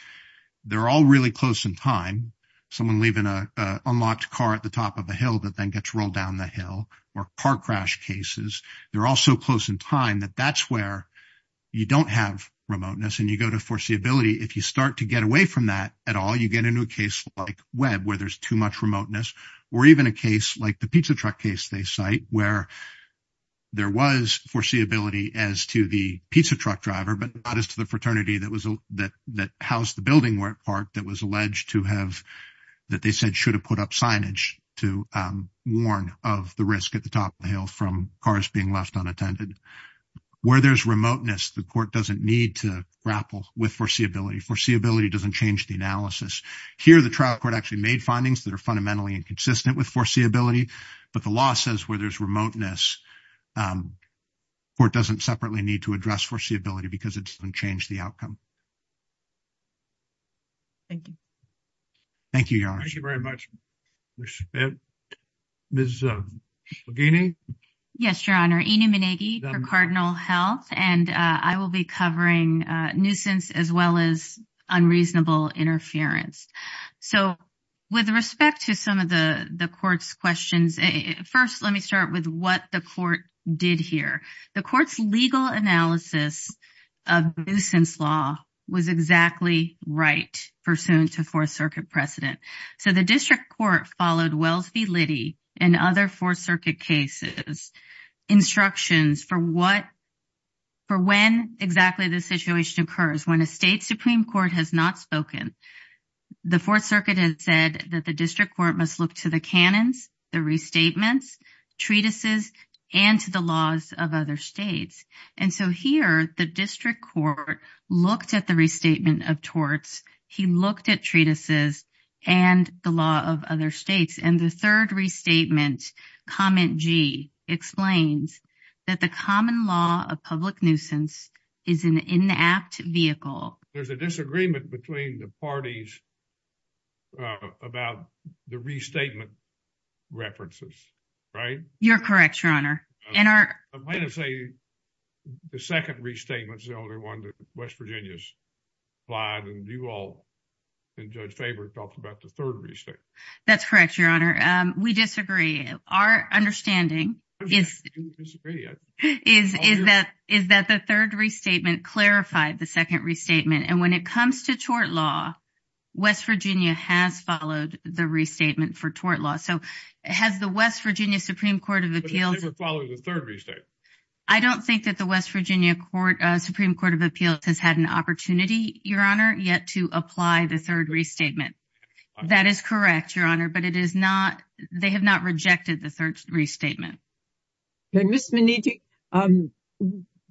they're all really close in time. Someone leaving an unlocked car at the top of a hill that then gets rolled down the hill or car crash cases, they're all so close in time that that's where you don't have remoteness and you go to foreseeability. If you start to get away from that at all, you get a new case like Webb where there's too much remoteness or even a case like the pizza truck case they cite where there was foreseeability as to the pizza truck driver, but not as to the fraternity that housed the building work part that was alleged to have, that they said should have put up signage to warn of the risk at the top of the hill from cars being left unattended. Where there's remoteness, the court doesn't need to grapple with foreseeability. Foreseeability doesn't change the analysis. Here, the trial court actually made findings that are fundamentally inconsistent with foreseeability, but the law says where there's remoteness, the court doesn't separately need to address foreseeability because it's going to change the outcome. Thank you. Thank you, Your Honor. Thank you very much. Respect. Ms. Slodini? Yes, Your Honor. Ina Meneghe for Cardinal Health, and I will be covering nuisance as well as unreasonable interference. So, with respect to some of the court's questions, first, let me start with what the court did here. The court's legal analysis of nuisance law was exactly right pursuant to Fourth Circuit precedent. So, the district court followed Wells v. Liddy and other Fourth Circuit cases' instructions for what, for when exactly the situation occurs. When a state Supreme Court has not spoken, the Fourth Circuit has said that the district court must look to the canons, the restatements, treatises, and to the laws of torts. He looked at treatises and the law of other states, and the third restatement, Comment G, explains that the common law of public nuisance is an inapt vehicle. There's a disagreement between the parties about the restatement references, right? You're correct, Your Honor. I'm going to say the second restatement is the only one that West Virginia's filed, and you all, and Judge Faber, talked about the third restatement. That's correct, Your Honor. We disagree. Our understanding is that the third restatement clarified the second restatement, and when it comes to tort law, West Virginia has followed the restatement for tort law. So, has the West Virginia Supreme Court of Appeals— But it didn't follow the third restatement. I don't think that the West Virginia Supreme Court of Appeals has had an opportunity, Your Honor, yet to apply the third restatement. That is correct, Your Honor, but it is not— they have not rejected the third restatement. Ms. Maneeki,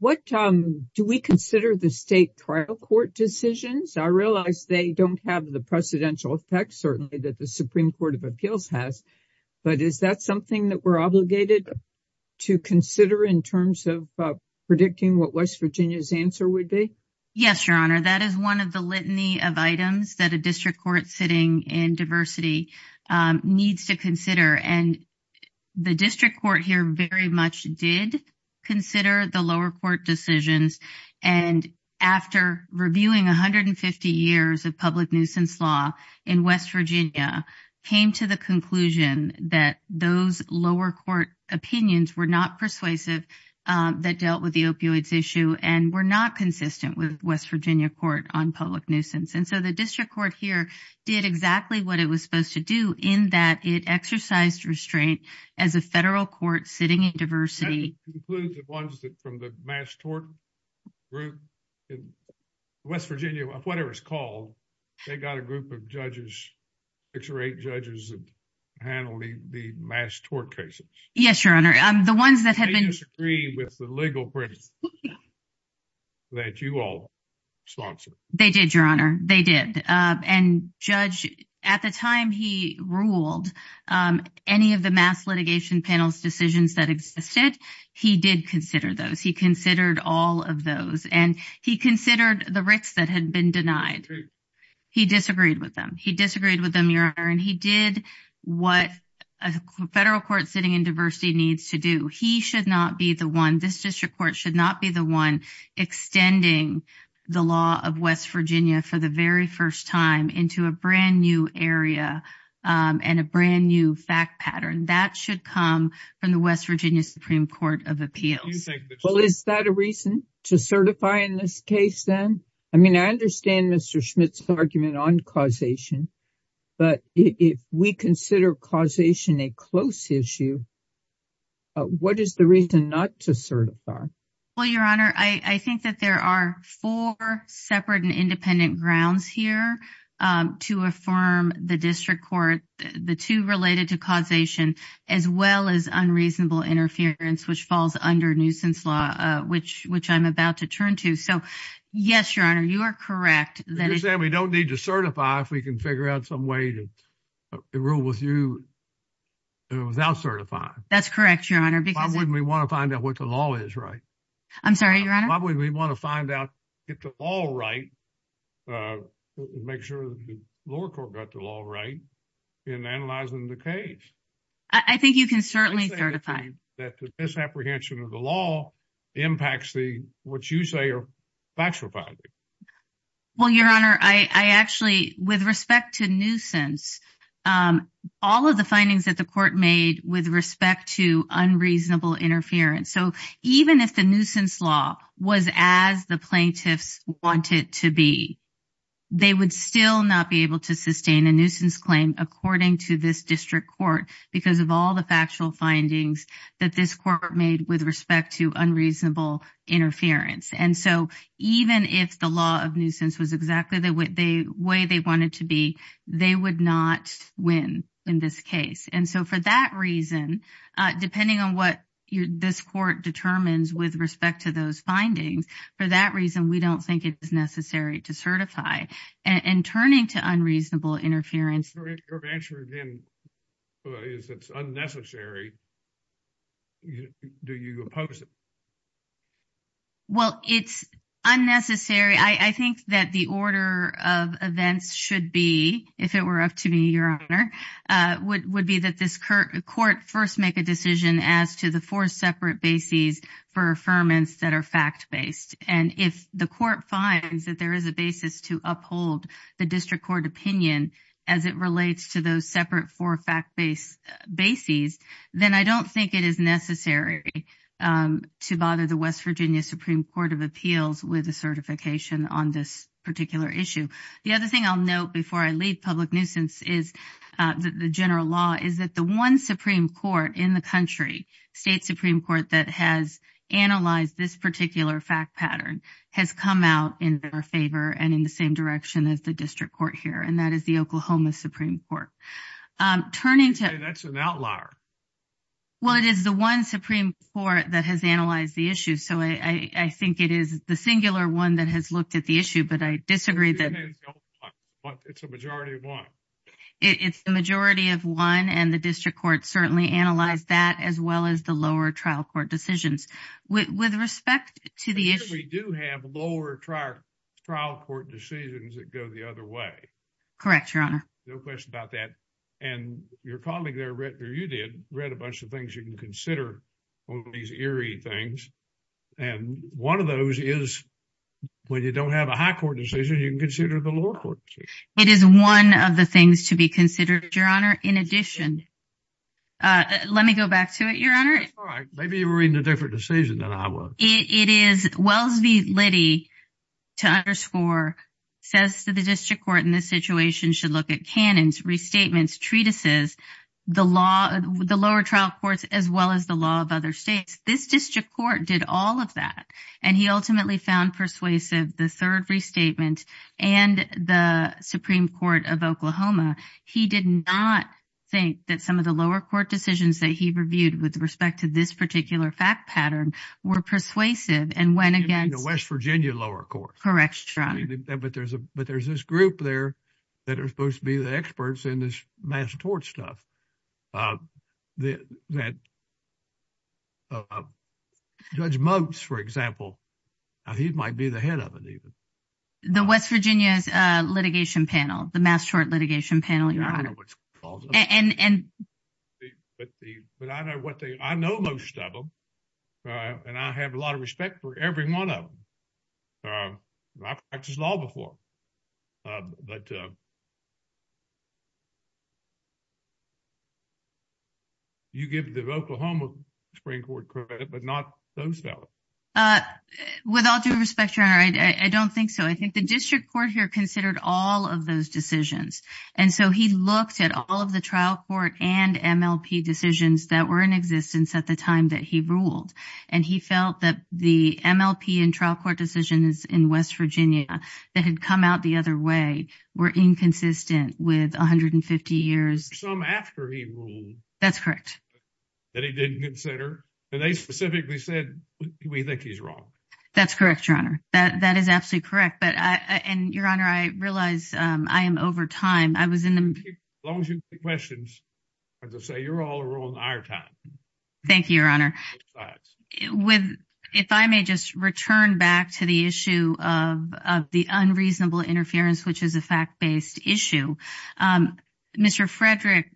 what—do we consider the state trial court decisions? I realize they don't have the precedential effect, certainly, that the Supreme Court of Appeals has, but is that something that we're obligated to consider in terms of predicting what West Virginia's answer would be? Yes, Your Honor. That is one of the litany of items that a district court sitting in diversity needs to consider, and the district court here very much did consider the lower court decisions, and after reviewing 150 years of public nuisance law in West Virginia, came to the conclusion that those lower court opinions were not persuasive that dealt with the opioids issue and were not consistent with West Virginia court on public nuisance. And so, the district court here did exactly what it was supposed to do in that it exercised restraint as a federal court sitting in diversity— That includes the ones from the mass tort group in West Virginia, whatever it's called. They got a group of judges, six or eight judges, that handled the mass tort cases. Yes, Your Honor. The ones that have been— They disagreed with the legal principles that you all sponsored. They did, Your Honor. They did. And Judge, at the time he ruled, any of the mass litigation panel's decisions that existed, he did consider those. He considered all of those, and he considered the writs that had been denied. He disagreed with them. He disagreed with them, Your Honor, and he did what a federal court sitting in diversity needs to do. He should not be the one, this district court should not be the one extending the law of West Virginia for the very first time into a brand new area and a brand new fact pattern. That should come from the West Virginia Supreme Court of Appeals. Well, is that a reason to certify in this case, then? I mean, I understand Mr. Schmidt's argument on causation, but if we consider causation a close issue, what is the reason not to certify? Well, Your Honor, I think that there are four separate and independent grounds here to affirm the district court, the two related to causation, as well as unreasonable interference, which falls under nuisance law, which I'm about to turn to. So, yes, Your Honor, you are correct. We don't need to certify if we can figure out some way to rule with you without certifying. That's correct, Your Honor. Why wouldn't we want to find out what the law is right? I'm sorry, Your Honor? Why wouldn't we want to find out, get the law right, make sure the lower court got the law right in analyzing the case? I think you can certainly certify. That the misapprehension of the law impacts what you say are factual boundaries. Well, Your Honor, I actually, with respect to nuisance, all of the findings that the court made with respect to unreasonable interference. So, even if the nuisance law was as the plaintiffs wanted to be, they would still not be able to sustain a nuisance claim according to this district court because of all the factual findings that this court made with respect to unreasonable interference. And so, even if the law of nuisance was exactly the way they wanted to be, they would not win in this case. And so, for that reason, depending on what this court determines with respect to those findings, for that reason, we don't think it's necessary to certify. And turning to unreasonable interference. If it's unnecessary, do you oppose it? Well, it's unnecessary. I think that the order of events should be, if it were up to me, Your Honor, would be that this court first make a decision as to the four separate bases for affirmance that are fact-based. And if the court finds that there is a basis to uphold the district court opinion as it relates to those separate four fact-based bases, then I don't think it is necessary to bother the West Virginia Supreme Court of Appeals with a certification on this particular issue. The other thing I'll note before I leave public nuisance is that the general law is that the one Supreme Court in the country, state Supreme Court that has analyzed this particular fact pattern, has come out in their favor and in the same direction as the district court here, and that is the Oklahoma Supreme Court. Turning to an outlier. Well, it is the one Supreme Court that has analyzed the issue. So, I think it is the singular one that has looked at the issue, but I disagree that it's a majority of one. It's the majority of one, and the district court certainly analyzed that as well as the lower trial court decisions. With respect to the issue. We do have lower trial court decisions that go the other way. Correct, Your Honor. No question about that. And your colleague there, you did, read a bunch of things you can consider on these eerie things, and one of those is when you don't have a high court decision, you can consider the lower court decision. It is one of the things to be considered, Your Honor. In addition, let me go back to it, Your Honor. All right. Maybe you Liddy, to underscore, says that the district court in this situation should look at canons, restatements, treatises, the law, the lower trial courts, as well as the law of other states. This district court did all of that, and he ultimately found persuasive the third restatement and the Supreme Court of Oklahoma. He did not think that some of the lower court decisions that he reviewed with respect to this particular fact pattern were persuasive, and went again. West Virginia lower court. Correct, Your Honor. But there's this group there that are supposed to be the experts in this mass tort stuff. Judge Mumps, for example, he might be the head of it. The West Virginia litigation panel, the mass tort litigation panel. I know most of them, and I have a lot of respect for every one of them. I practiced law before, but you give the Oklahoma Supreme Court credit, but not those guys. With all due respect, Your Honor, I don't think so. I think the district court here considered all of those decisions, and so he looked at all of the trial court and MLP decisions that were in existence at the time that he ruled, and he felt that the MLP and trial court decisions in West Virginia that had come out the other way were inconsistent with 150 years. Some after he ruled. That's correct. That he didn't consider, but they specifically said we think he's wrong. That's correct, Your Honor. That is absolutely correct, and Your Honor, I realize I am over time. As long as you take questions, as I say, you're all on our time. Thank you, Your Honor. If I may just return back to the issue of the unreasonable interference, which is a fact-based issue. Mr. Frederick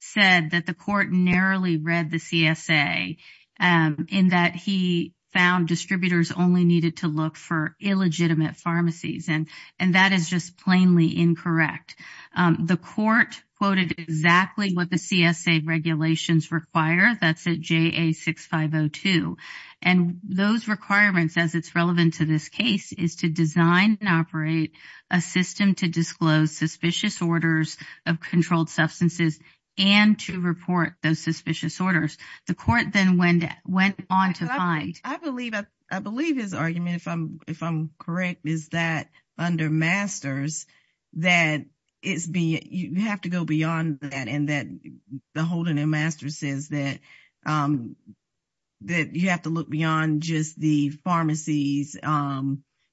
said that the CSA, in that he found distributors only needed to look for illegitimate pharmacies, and that is just plainly incorrect. The court quoted exactly what the CSA regulations require. That's at JA6502, and those requirements, as it's relevant to this case, is to design and operate a system to disclose suspicious orders of controlled substances, and to report those suspicious orders. The court then went on to find- I believe his argument, if I'm correct, is that under Masters, that you have to go beyond that, and that the holding in Masters says that that you have to look beyond just the pharmacies.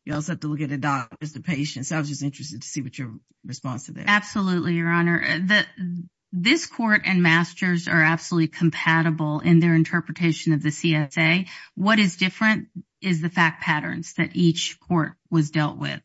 You also have to look at the patients. I was just interested to see what your response is. Absolutely, Your Honor. This court and Masters are absolutely compatible in their interpretation of the CSA. What is different is the fact patterns that each court was dealt with.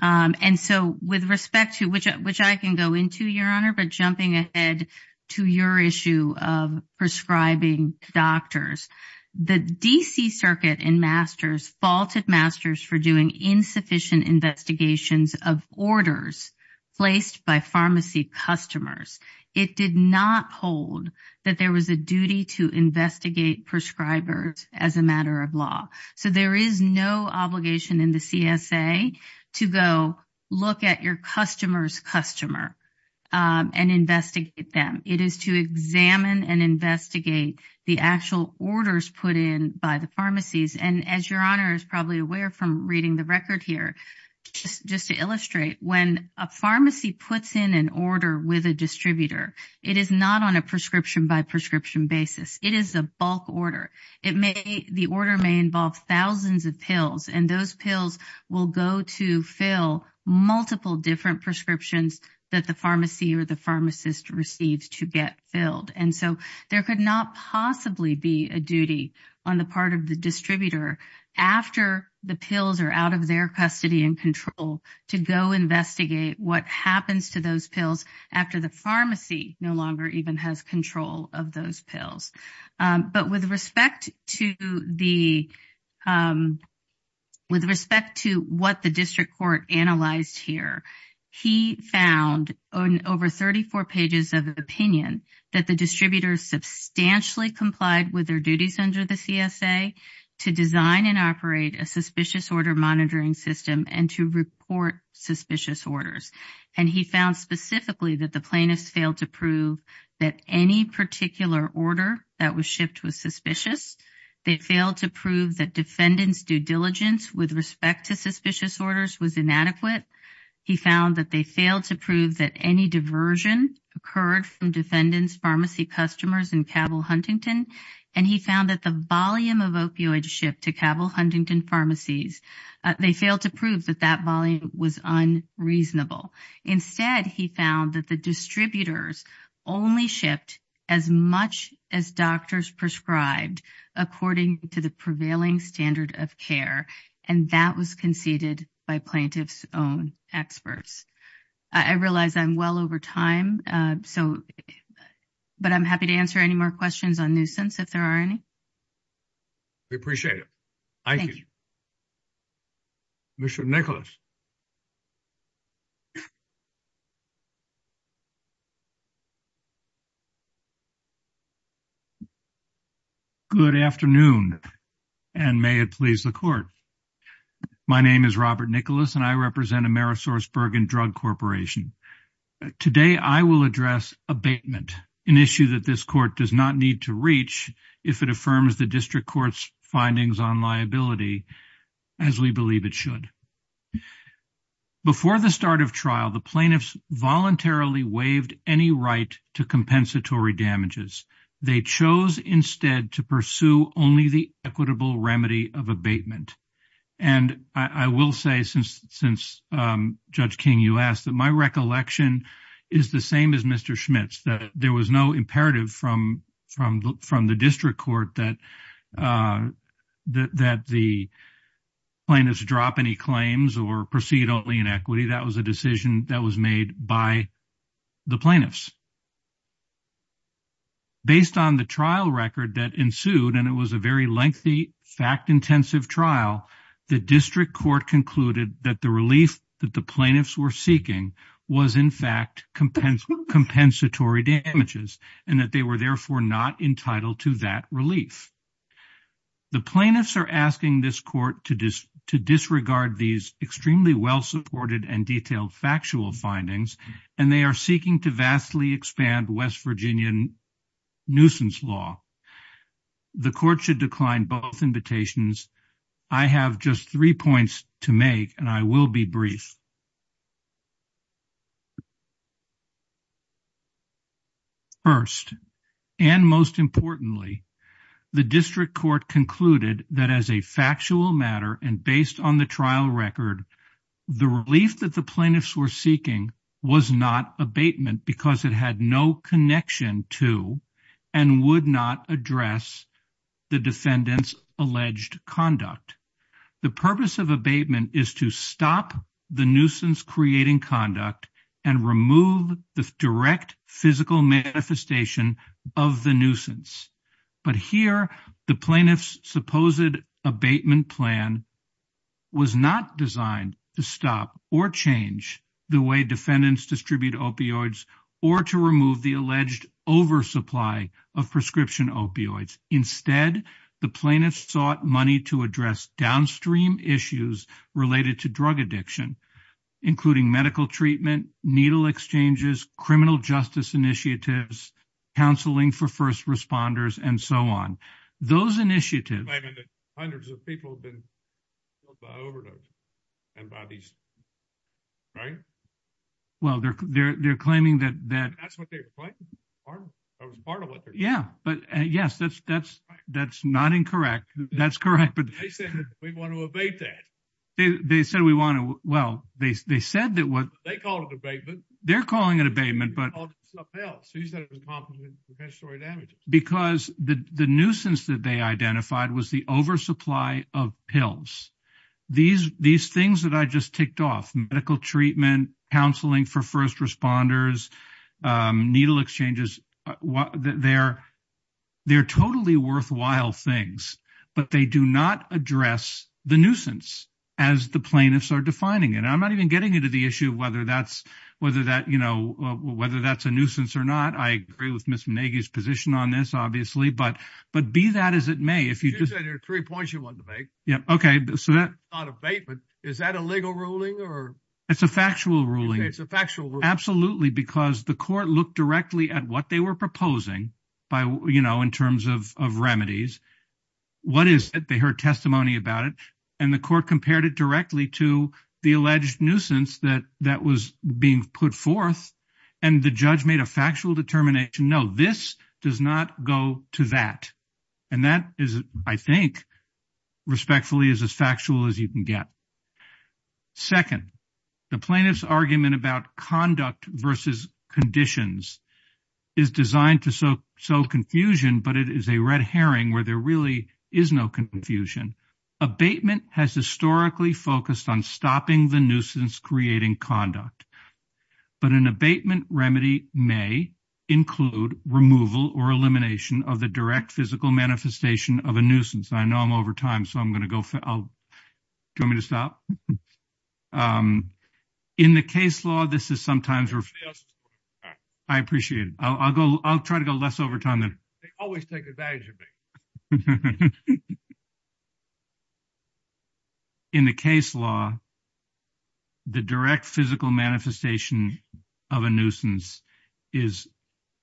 And so, with respect to- which I can go into, Your Honor, but jumping ahead to your issue of prescribing doctors, the DC Circuit in Masters faulted Masters for doing insufficient investigations of orders placed by pharmacy customers. It did not hold that there was a duty to investigate prescribers as a matter of law. So, there is no obligation in the CSA to go look at your customer's customer and investigate them. It is to examine and investigate the actual orders put in by the pharmacies. And as Your Honor is probably aware from reading the record here, just to illustrate, when a pharmacy puts in an order with a distributor, it is not on a prescription by prescription basis. It is a bulk order. The order may involve thousands of pills, and those pills will go to fill multiple different prescriptions that the pharmacy or the pharmacist receives to get filled. And so, there could not possibly be a duty on the part of the distributor after the pills are out of their custody and control to go investigate what happens to those pills after the district court analyzed here. He found over 34 pages of opinion that the distributor substantially complied with their duties under the CSA to design and operate a suspicious order monitoring system and to report suspicious orders. And he found specifically that the plaintiff failed to prove that any particular order that was shipped was suspicious. They failed to prove that defendants due diligence with respect to suspicious orders was inadequate. He found that they failed to prove that any diversion occurred from defendants pharmacy customers in Cabell Huntington. And he found that the volume of opioids shipped to Cabell Huntington pharmacies, they failed to prove that that volume was unreasonable. Instead, he found that the distributors only shipped as much as doctors prescribed according to the prevailing standard of care. And that was conceded by plaintiff's own experts. I realize I'm well over time, but I'm happy to answer any more questions on nuisance if there are any. We appreciate it. Thank you. Thank you. Commissioner Nicholas. Good afternoon, and may it please the court. My name is Robert Nicholas, and I represent Amerisource Bergen Drug Corporation. Today, I will address abatement, an issue that this court does not need to reach if it affirms the district court's findings on liability as we believe it should. Before the start of trial, the plaintiffs voluntarily waived any right to compensatory damages. They chose instead to pursue only the equitable remedy of abatement. And I will say since Judge King, you asked that my recollection is the same as Mr. Schmitz, that there was no plaintiff's drop any claims or proceed only in equity. That was a decision that was made by the plaintiffs. Based on the trial record that ensued, and it was a very lengthy, fact-intensive trial, the district court concluded that the relief that the plaintiffs were seeking was in fact compensatory damages, and that they were therefore not entitled to that relief. The plaintiffs are asking this court to disregard these extremely well-supported and detailed factual findings, and they are seeking to vastly expand West Virginia nuisance law. The court should decline both invitations. I have just three points to make, and I will be brief. First, and most importantly, the district court concluded that as a factual matter and based on the trial record, the relief that the plaintiffs were seeking was not abatement, because it had no connection to and would not address the defendant's alleged conduct. The purpose of nuisance creating conduct and remove the direct physical manifestation of the nuisance. But here, the plaintiff's supposed abatement plan was not designed to stop or change the way defendants distribute opioids or to remove the alleged oversupply of prescription opioids. Instead, the plaintiffs sought money to address downstream issues related to drug addiction, including medical treatment, needle exchanges, criminal justice initiatives, counseling for first responders, and so on. Those initiatives hundreds of people have been overlooked and by these, right? Well, they're they're they're claiming that that's what they're claiming. Yeah, but yes, that's that's that's not incorrect. That's correct. But they said we want to abate that. They said we want to. Well, they said that what they call abatement. They're calling it abatement. But he's going to be involved in the story damage because the nuisance that they identified was the oversupply of pills. These these things that I just kicked off medical treatment, counseling for first responders, needle exchanges. They're they're totally worthwhile things, but they do not address the nuisance as the plaintiffs are defining it. I'm not even getting into the issue of whether that's whether that you know, whether that's a nuisance or not. I agree with Miss Maggie's position on this, obviously. But but be that as it may, if you just three points you want to make. Yeah, OK. So that on abatement, is that a legal ruling or it's a factual ruling? It's a factual. Absolutely. Because the court looked directly at what they were proposing by, you know, in terms of of remedies. What is it they heard testimony about it and the court compared it directly to the alleged nuisance that that was being put forth. And the judge made a factual determination. No, this does not go to that. And that is, I think, respectfully, is as factual as you can get. Second, the plaintiff's argument about conduct versus conditions is designed to so so confusion, but it is a red herring where there really is no confusion. Abatement has historically focused on stopping the nuisance, creating conduct. But an abatement remedy may include removal or elimination of the direct physical manifestation of a nuisance. I know I'm over time, so I'm going to go. Do you want me to stop? In the case law, this is sometimes. I appreciate it. I'll go. I'll try to last over time. They always take advantage of me. In the case law. The direct physical manifestation of a nuisance is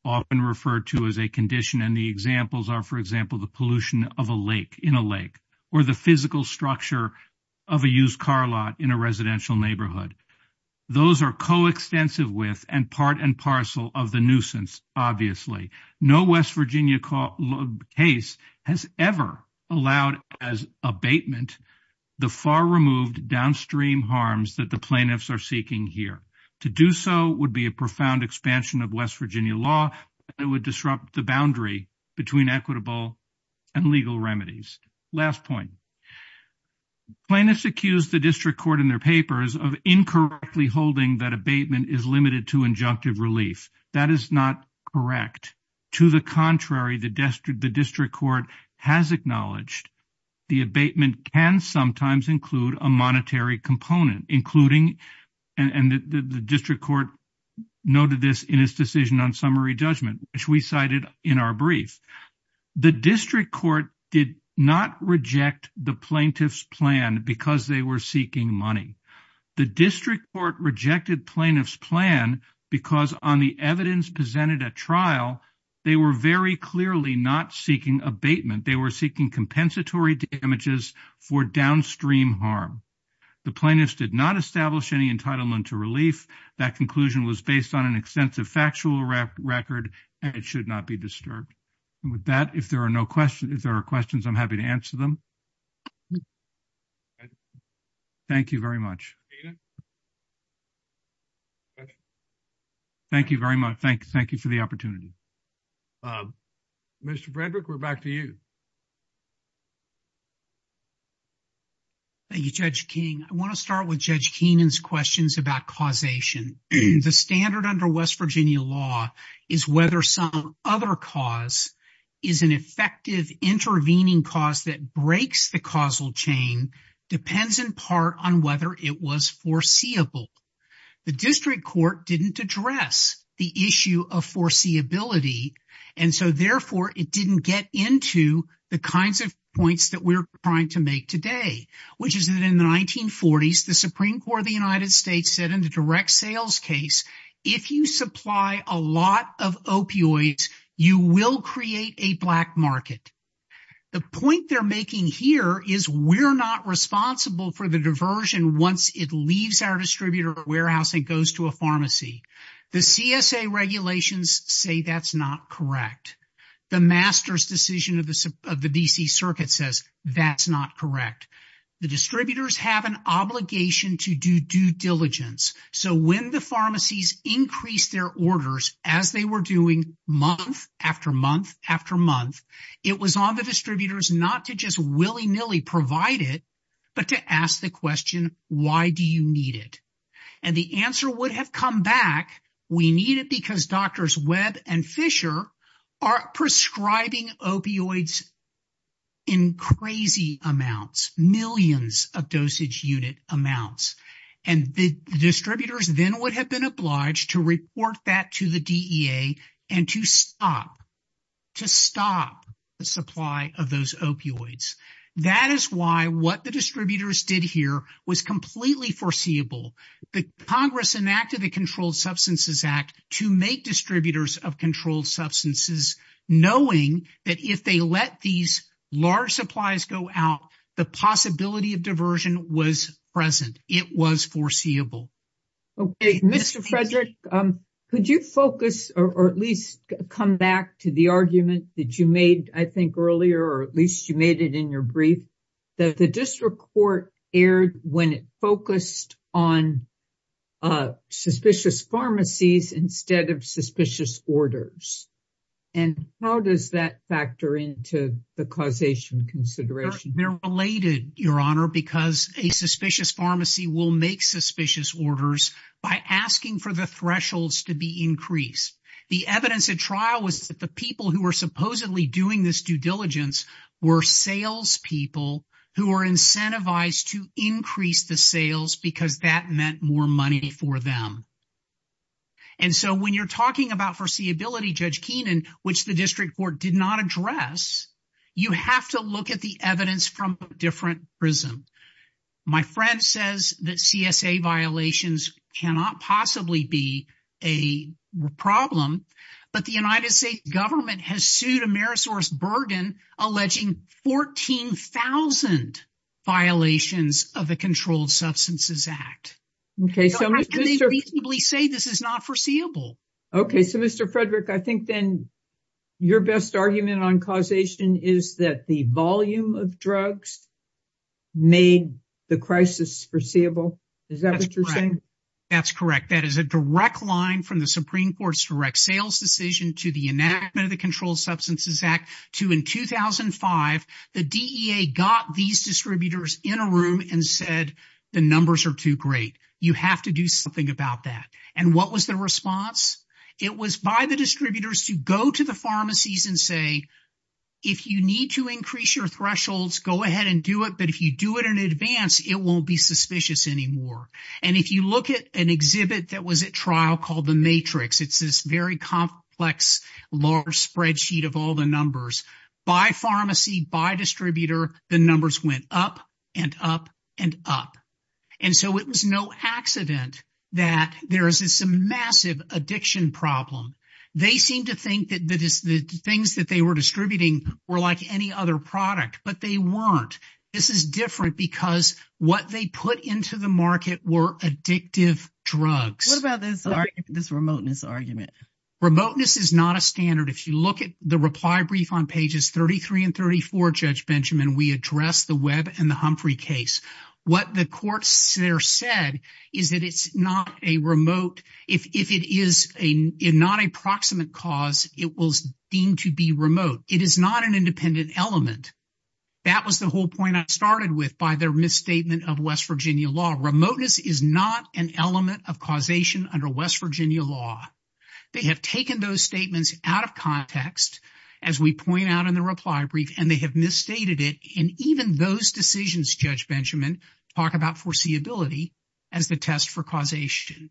often referred to as a condition, and the examples are, for example, the pollution of a lake in a lake or the physical structure of a used car lot in a residential neighborhood. Those are coextensive with and part and parcel of the nuisance. Obviously, no West Virginia case has ever allowed as abatement the far removed downstream harms that the plaintiffs are seeking here. To do so would be a profound expansion of West Virginia law that would disrupt the boundary between equitable and legal remedies. Last point. Plaintiffs accused the district court in their injunctive relief. That is not correct. To the contrary, the district court has acknowledged the abatement can sometimes include a monetary component, including and the district court noted this in his decision on summary judgment, which we cited in our brief. The district court did not reject the plaintiff's plan because they were seeking money. The district court rejected plaintiff's plan because on the evidence presented at trial, they were very clearly not seeking abatement. They were seeking compensatory damages for downstream harm. The plaintiffs did not establish any entitlement to relief. That conclusion was based on an extensive factual record, and it should not be disturbed. With that, if there are no questions, if there are questions, I'm happy to answer them. Thank you very much. Thank you very much. Thank you for the opportunity. Mr. Frederick, we're back to you. Thank you, Judge King. I want to start with Judge Keenan's questions about causation. The standard under West Virginia law is whether some other cause is an effective intervening cause that breaks the causal chain depends in part on whether it was foreseeable. The district court didn't address the issue of foreseeability, and so therefore it didn't get into the kinds of points that we're trying to make today, which is that in the 1940s, the Supreme Court of the United States said in the direct sales case, if you supply a lot of opioids, you will create a black market. The point they're making here is we're not responsible for the diversion once it leaves our distributor warehouse and goes to a pharmacy. The CSA regulations say that's not correct. The master's decision of the DC circuit says that's not correct. The distributors have an obligation to do due diligence, so when the pharmacies increased their orders as they were doing month after month after month, it was on the distributors not to just willy-nilly provide it, but to ask the question, why do you need it? And the answer would have come back, we need it because doctors Webb and Fisher are prescribing opioids in crazy amounts, millions of dosage unit amounts. And the distributors then would have been obliged to report that to the DEA and to stop the supply of those opioids. That is why what the distributors did here was completely foreseeable. The Congress enacted the Controlled Substances Act to make distributors of controlled substances knowing that if they let these large amounts of opioids out, they would be subject to the CSA regulations. Could you focus or at least come back to the argument that you made, I think, earlier, or at least you made it in your brief, that the district court erred when it focused on suspicious pharmacies instead of suspicious orders. And how does that factor into the causation consideration? They're related, Your Honor, because a suspicious pharmacy will make for the thresholds to be increased. The evidence at trial was that the people who were supposedly doing this due diligence were salespeople who were incentivized to increase the sales because that meant more money for them. And so when you're talking about foreseeability, Judge Keenan, which the district court did not address, you have to look at the evidence from a different prism. My friend says that CSA violations cannot possibly be a problem, but the United States government has sued AmerisourceBurden alleging 14,000 violations of the Controlled Substances Act. How can they reasonably say this is not foreseeable? Okay. So, Mr. Frederick, I think then your best argument on causation is that the volume of drugs made the crisis foreseeable. Is that what you're saying? That's correct. That is a direct line from the Supreme Court's direct sales decision to the enactment of the Controlled Substances Act to, in 2005, the DEA got these distributors in a room and said the numbers are too great. You have to do something about that. And what was the response? It was by the distributors to go to the pharmacies and say, if you need to increase your thresholds, go ahead and do it, but if you do it in advance, it won't be suspicious anymore. And if you look at an exhibit that was at trial called The Matrix, it's this very complex large spreadsheet of all the numbers. By pharmacy, by distributor, the numbers went up and up and up. And so it was no accident that there is this massive addiction problem. They seem to think that the things that they were distributing were like any other product, but they weren't. This is different because what they put into the market were addictive drugs. What about this remoteness argument? Remoteness is not a standard. If you look at the reply brief on pages 33 and 34, Judge Benjamin, we address the Webb and the Humphrey case. What the courts there said is that it's not a remote, if it is not a proximate cause, it was deemed to be remote. It is not an independent element. That was the whole point I started with by their misstatement of West Virginia law. Remoteness is not an element of causation under West Virginia law. They have taken those statements out of context, as we pointed out in the reply brief, and they have misstated it. And even those decisions, Judge Benjamin, talk about foreseeability as the test for causation.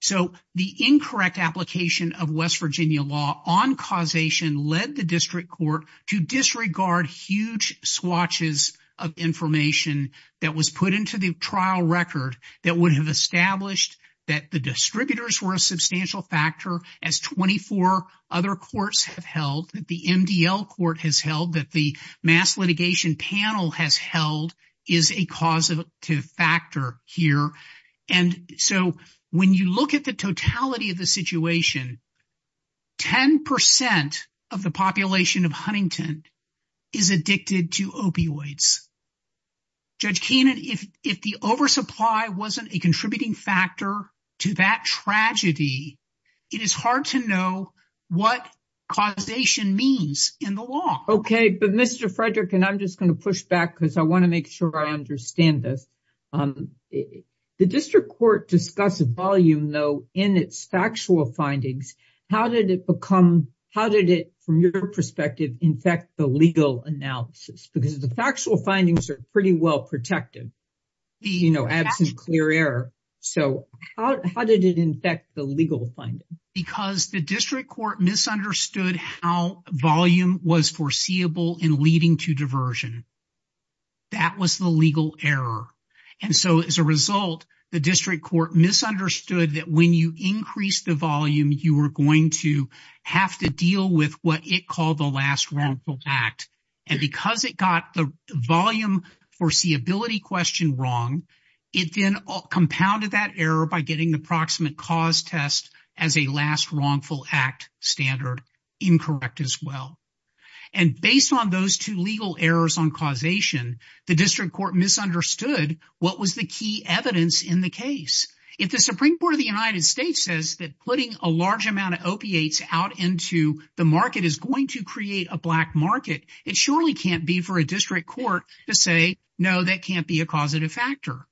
So the incorrect application of West Virginia law on causation led the district court to disregard huge swatches of information that was put into the trial record that would have established that the distributors were a that the mass litigation panel has held is a causative factor here. And so when you look at the totality of the situation, 10% of the population of Huntington is addicted to opioids. Judge Keenan, if the oversupply wasn't a contributing factor to that tragedy, it is to know what causation means in the law. Okay. But Mr. Frederick, and I'm just going to push back because I want to make sure I understand this. The district court discussed a volume, though, in its factual findings, how did it become, how did it, from your perspective, infect the legal analysis? Because the factual findings are pretty well protected, you know, absent clear error. So how did it infect the legal funding? Because the district court misunderstood how volume was foreseeable in leading to diversion. That was the legal error. And so as a result, the district court misunderstood that when you increase the volume, you are going to have to deal with what it called the last wrongful act. And because it got the volume foreseeability question wrong, it then compounded that error by getting the approximate cause test as a last wrongful act standard incorrect as well. And based on those two legal errors on causation, the district court misunderstood what was the key evidence in the case. If the Supreme Court of the United States says that putting a large amount of opiates out into the market is going to create a black market, it surely can't be for a district court to say, no, that can't be a causative factor.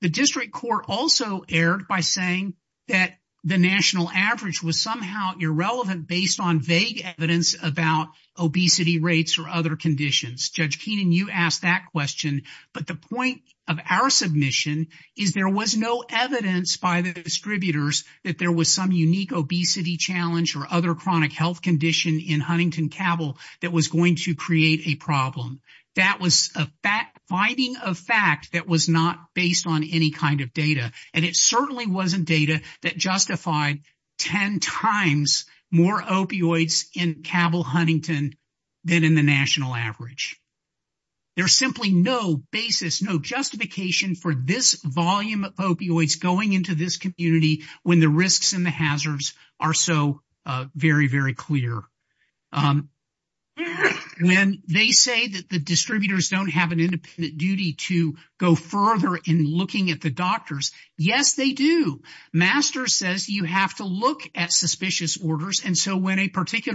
The district court also erred by saying that the national average was somehow irrelevant based on vague evidence about obesity rates or other conditions. Judge Keenan, you asked that question, but the point of our submission is there was no evidence by the distributors that there was some unique obesity challenge or other chronic health condition in Huntington Cabell that was going to create a problem. That was a binding of facts that was not based on any kind of data. And it certainly wasn't data that justified 10 times more opioids in Cabell Huntington than in the national average. There's simply no basis, no justification for this volume of opioids going into this community when the risks and the hazards are so very, very clear. And they say that the distributors don't have an independent duty to go further in looking at the doctors. Yes, they do. Masters says you have to look at suspicious orders. And so when a 30,000,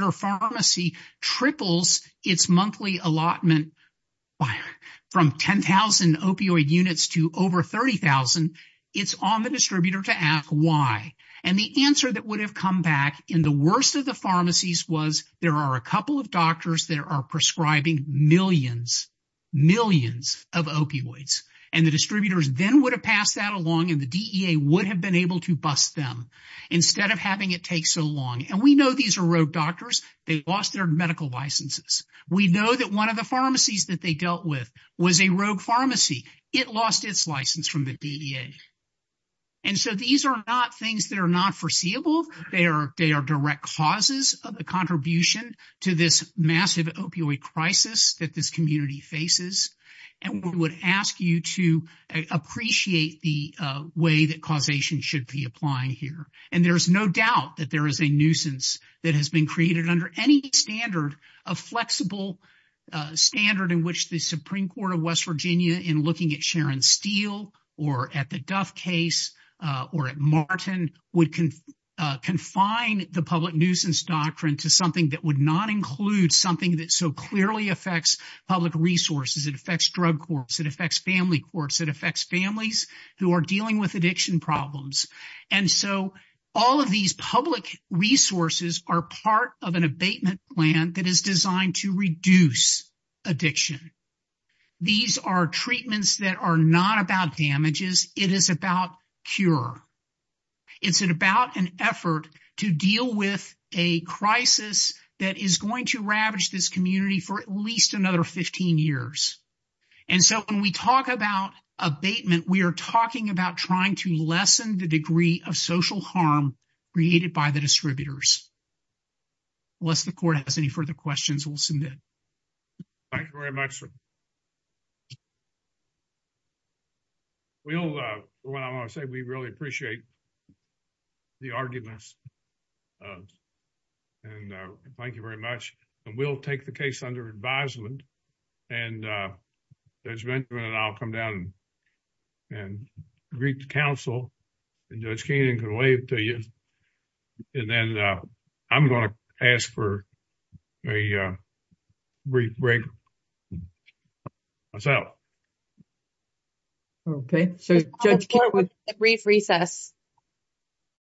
it's on the distributor to ask why. And the answer that would have come back in the worst of the pharmacies was there are a couple of doctors that are prescribing millions, millions of opioids. And the distributors then would have passed that along and the DEA would have been able to bust them instead of having it take so long. And we know these are rogue doctors. They lost their medical licenses. We know that one of the pharmacies that they dealt with was a rogue pharmacy. It lost its license from the DEA. And so these are not things that are not foreseeable. They are direct causes of the contribution to this massive opioid crisis that this community faces. And we would ask you to appreciate the way that causation should be applying here. And there is no doubt that there is a nuisance that has been created under any standard of flexible standard in which the Supreme Court of West Virginia in looking at Sharon Steele or at the Duff case or at Martin would confine the public nuisance doctrine to something that would not include something that so clearly affects public resources. It affects drug courts. It affects family courts. It affects families who are dealing with addiction problems. And so all of these public resources are part of abatement plan that is designed to reduce addiction. These are treatments that are not about damages. It is about cure. It's about an effort to deal with a crisis that is going to ravage this community for at least another 15 years. And so when we talk about abatement, we are talking about trying to lessen the degree of social harm created by the distributors. Unless the court has any further questions, we will submit. Thank you very much, sir. We will, what I want to say, we really appreciate the arguments. And thank you very much. And we will take the case under advisement. And Judge Benjamin and I will come down and greet the counsel. And Judge Keenan can wave to you. And then I'm going to ask for a brief break. What's up? Okay. So brief recess.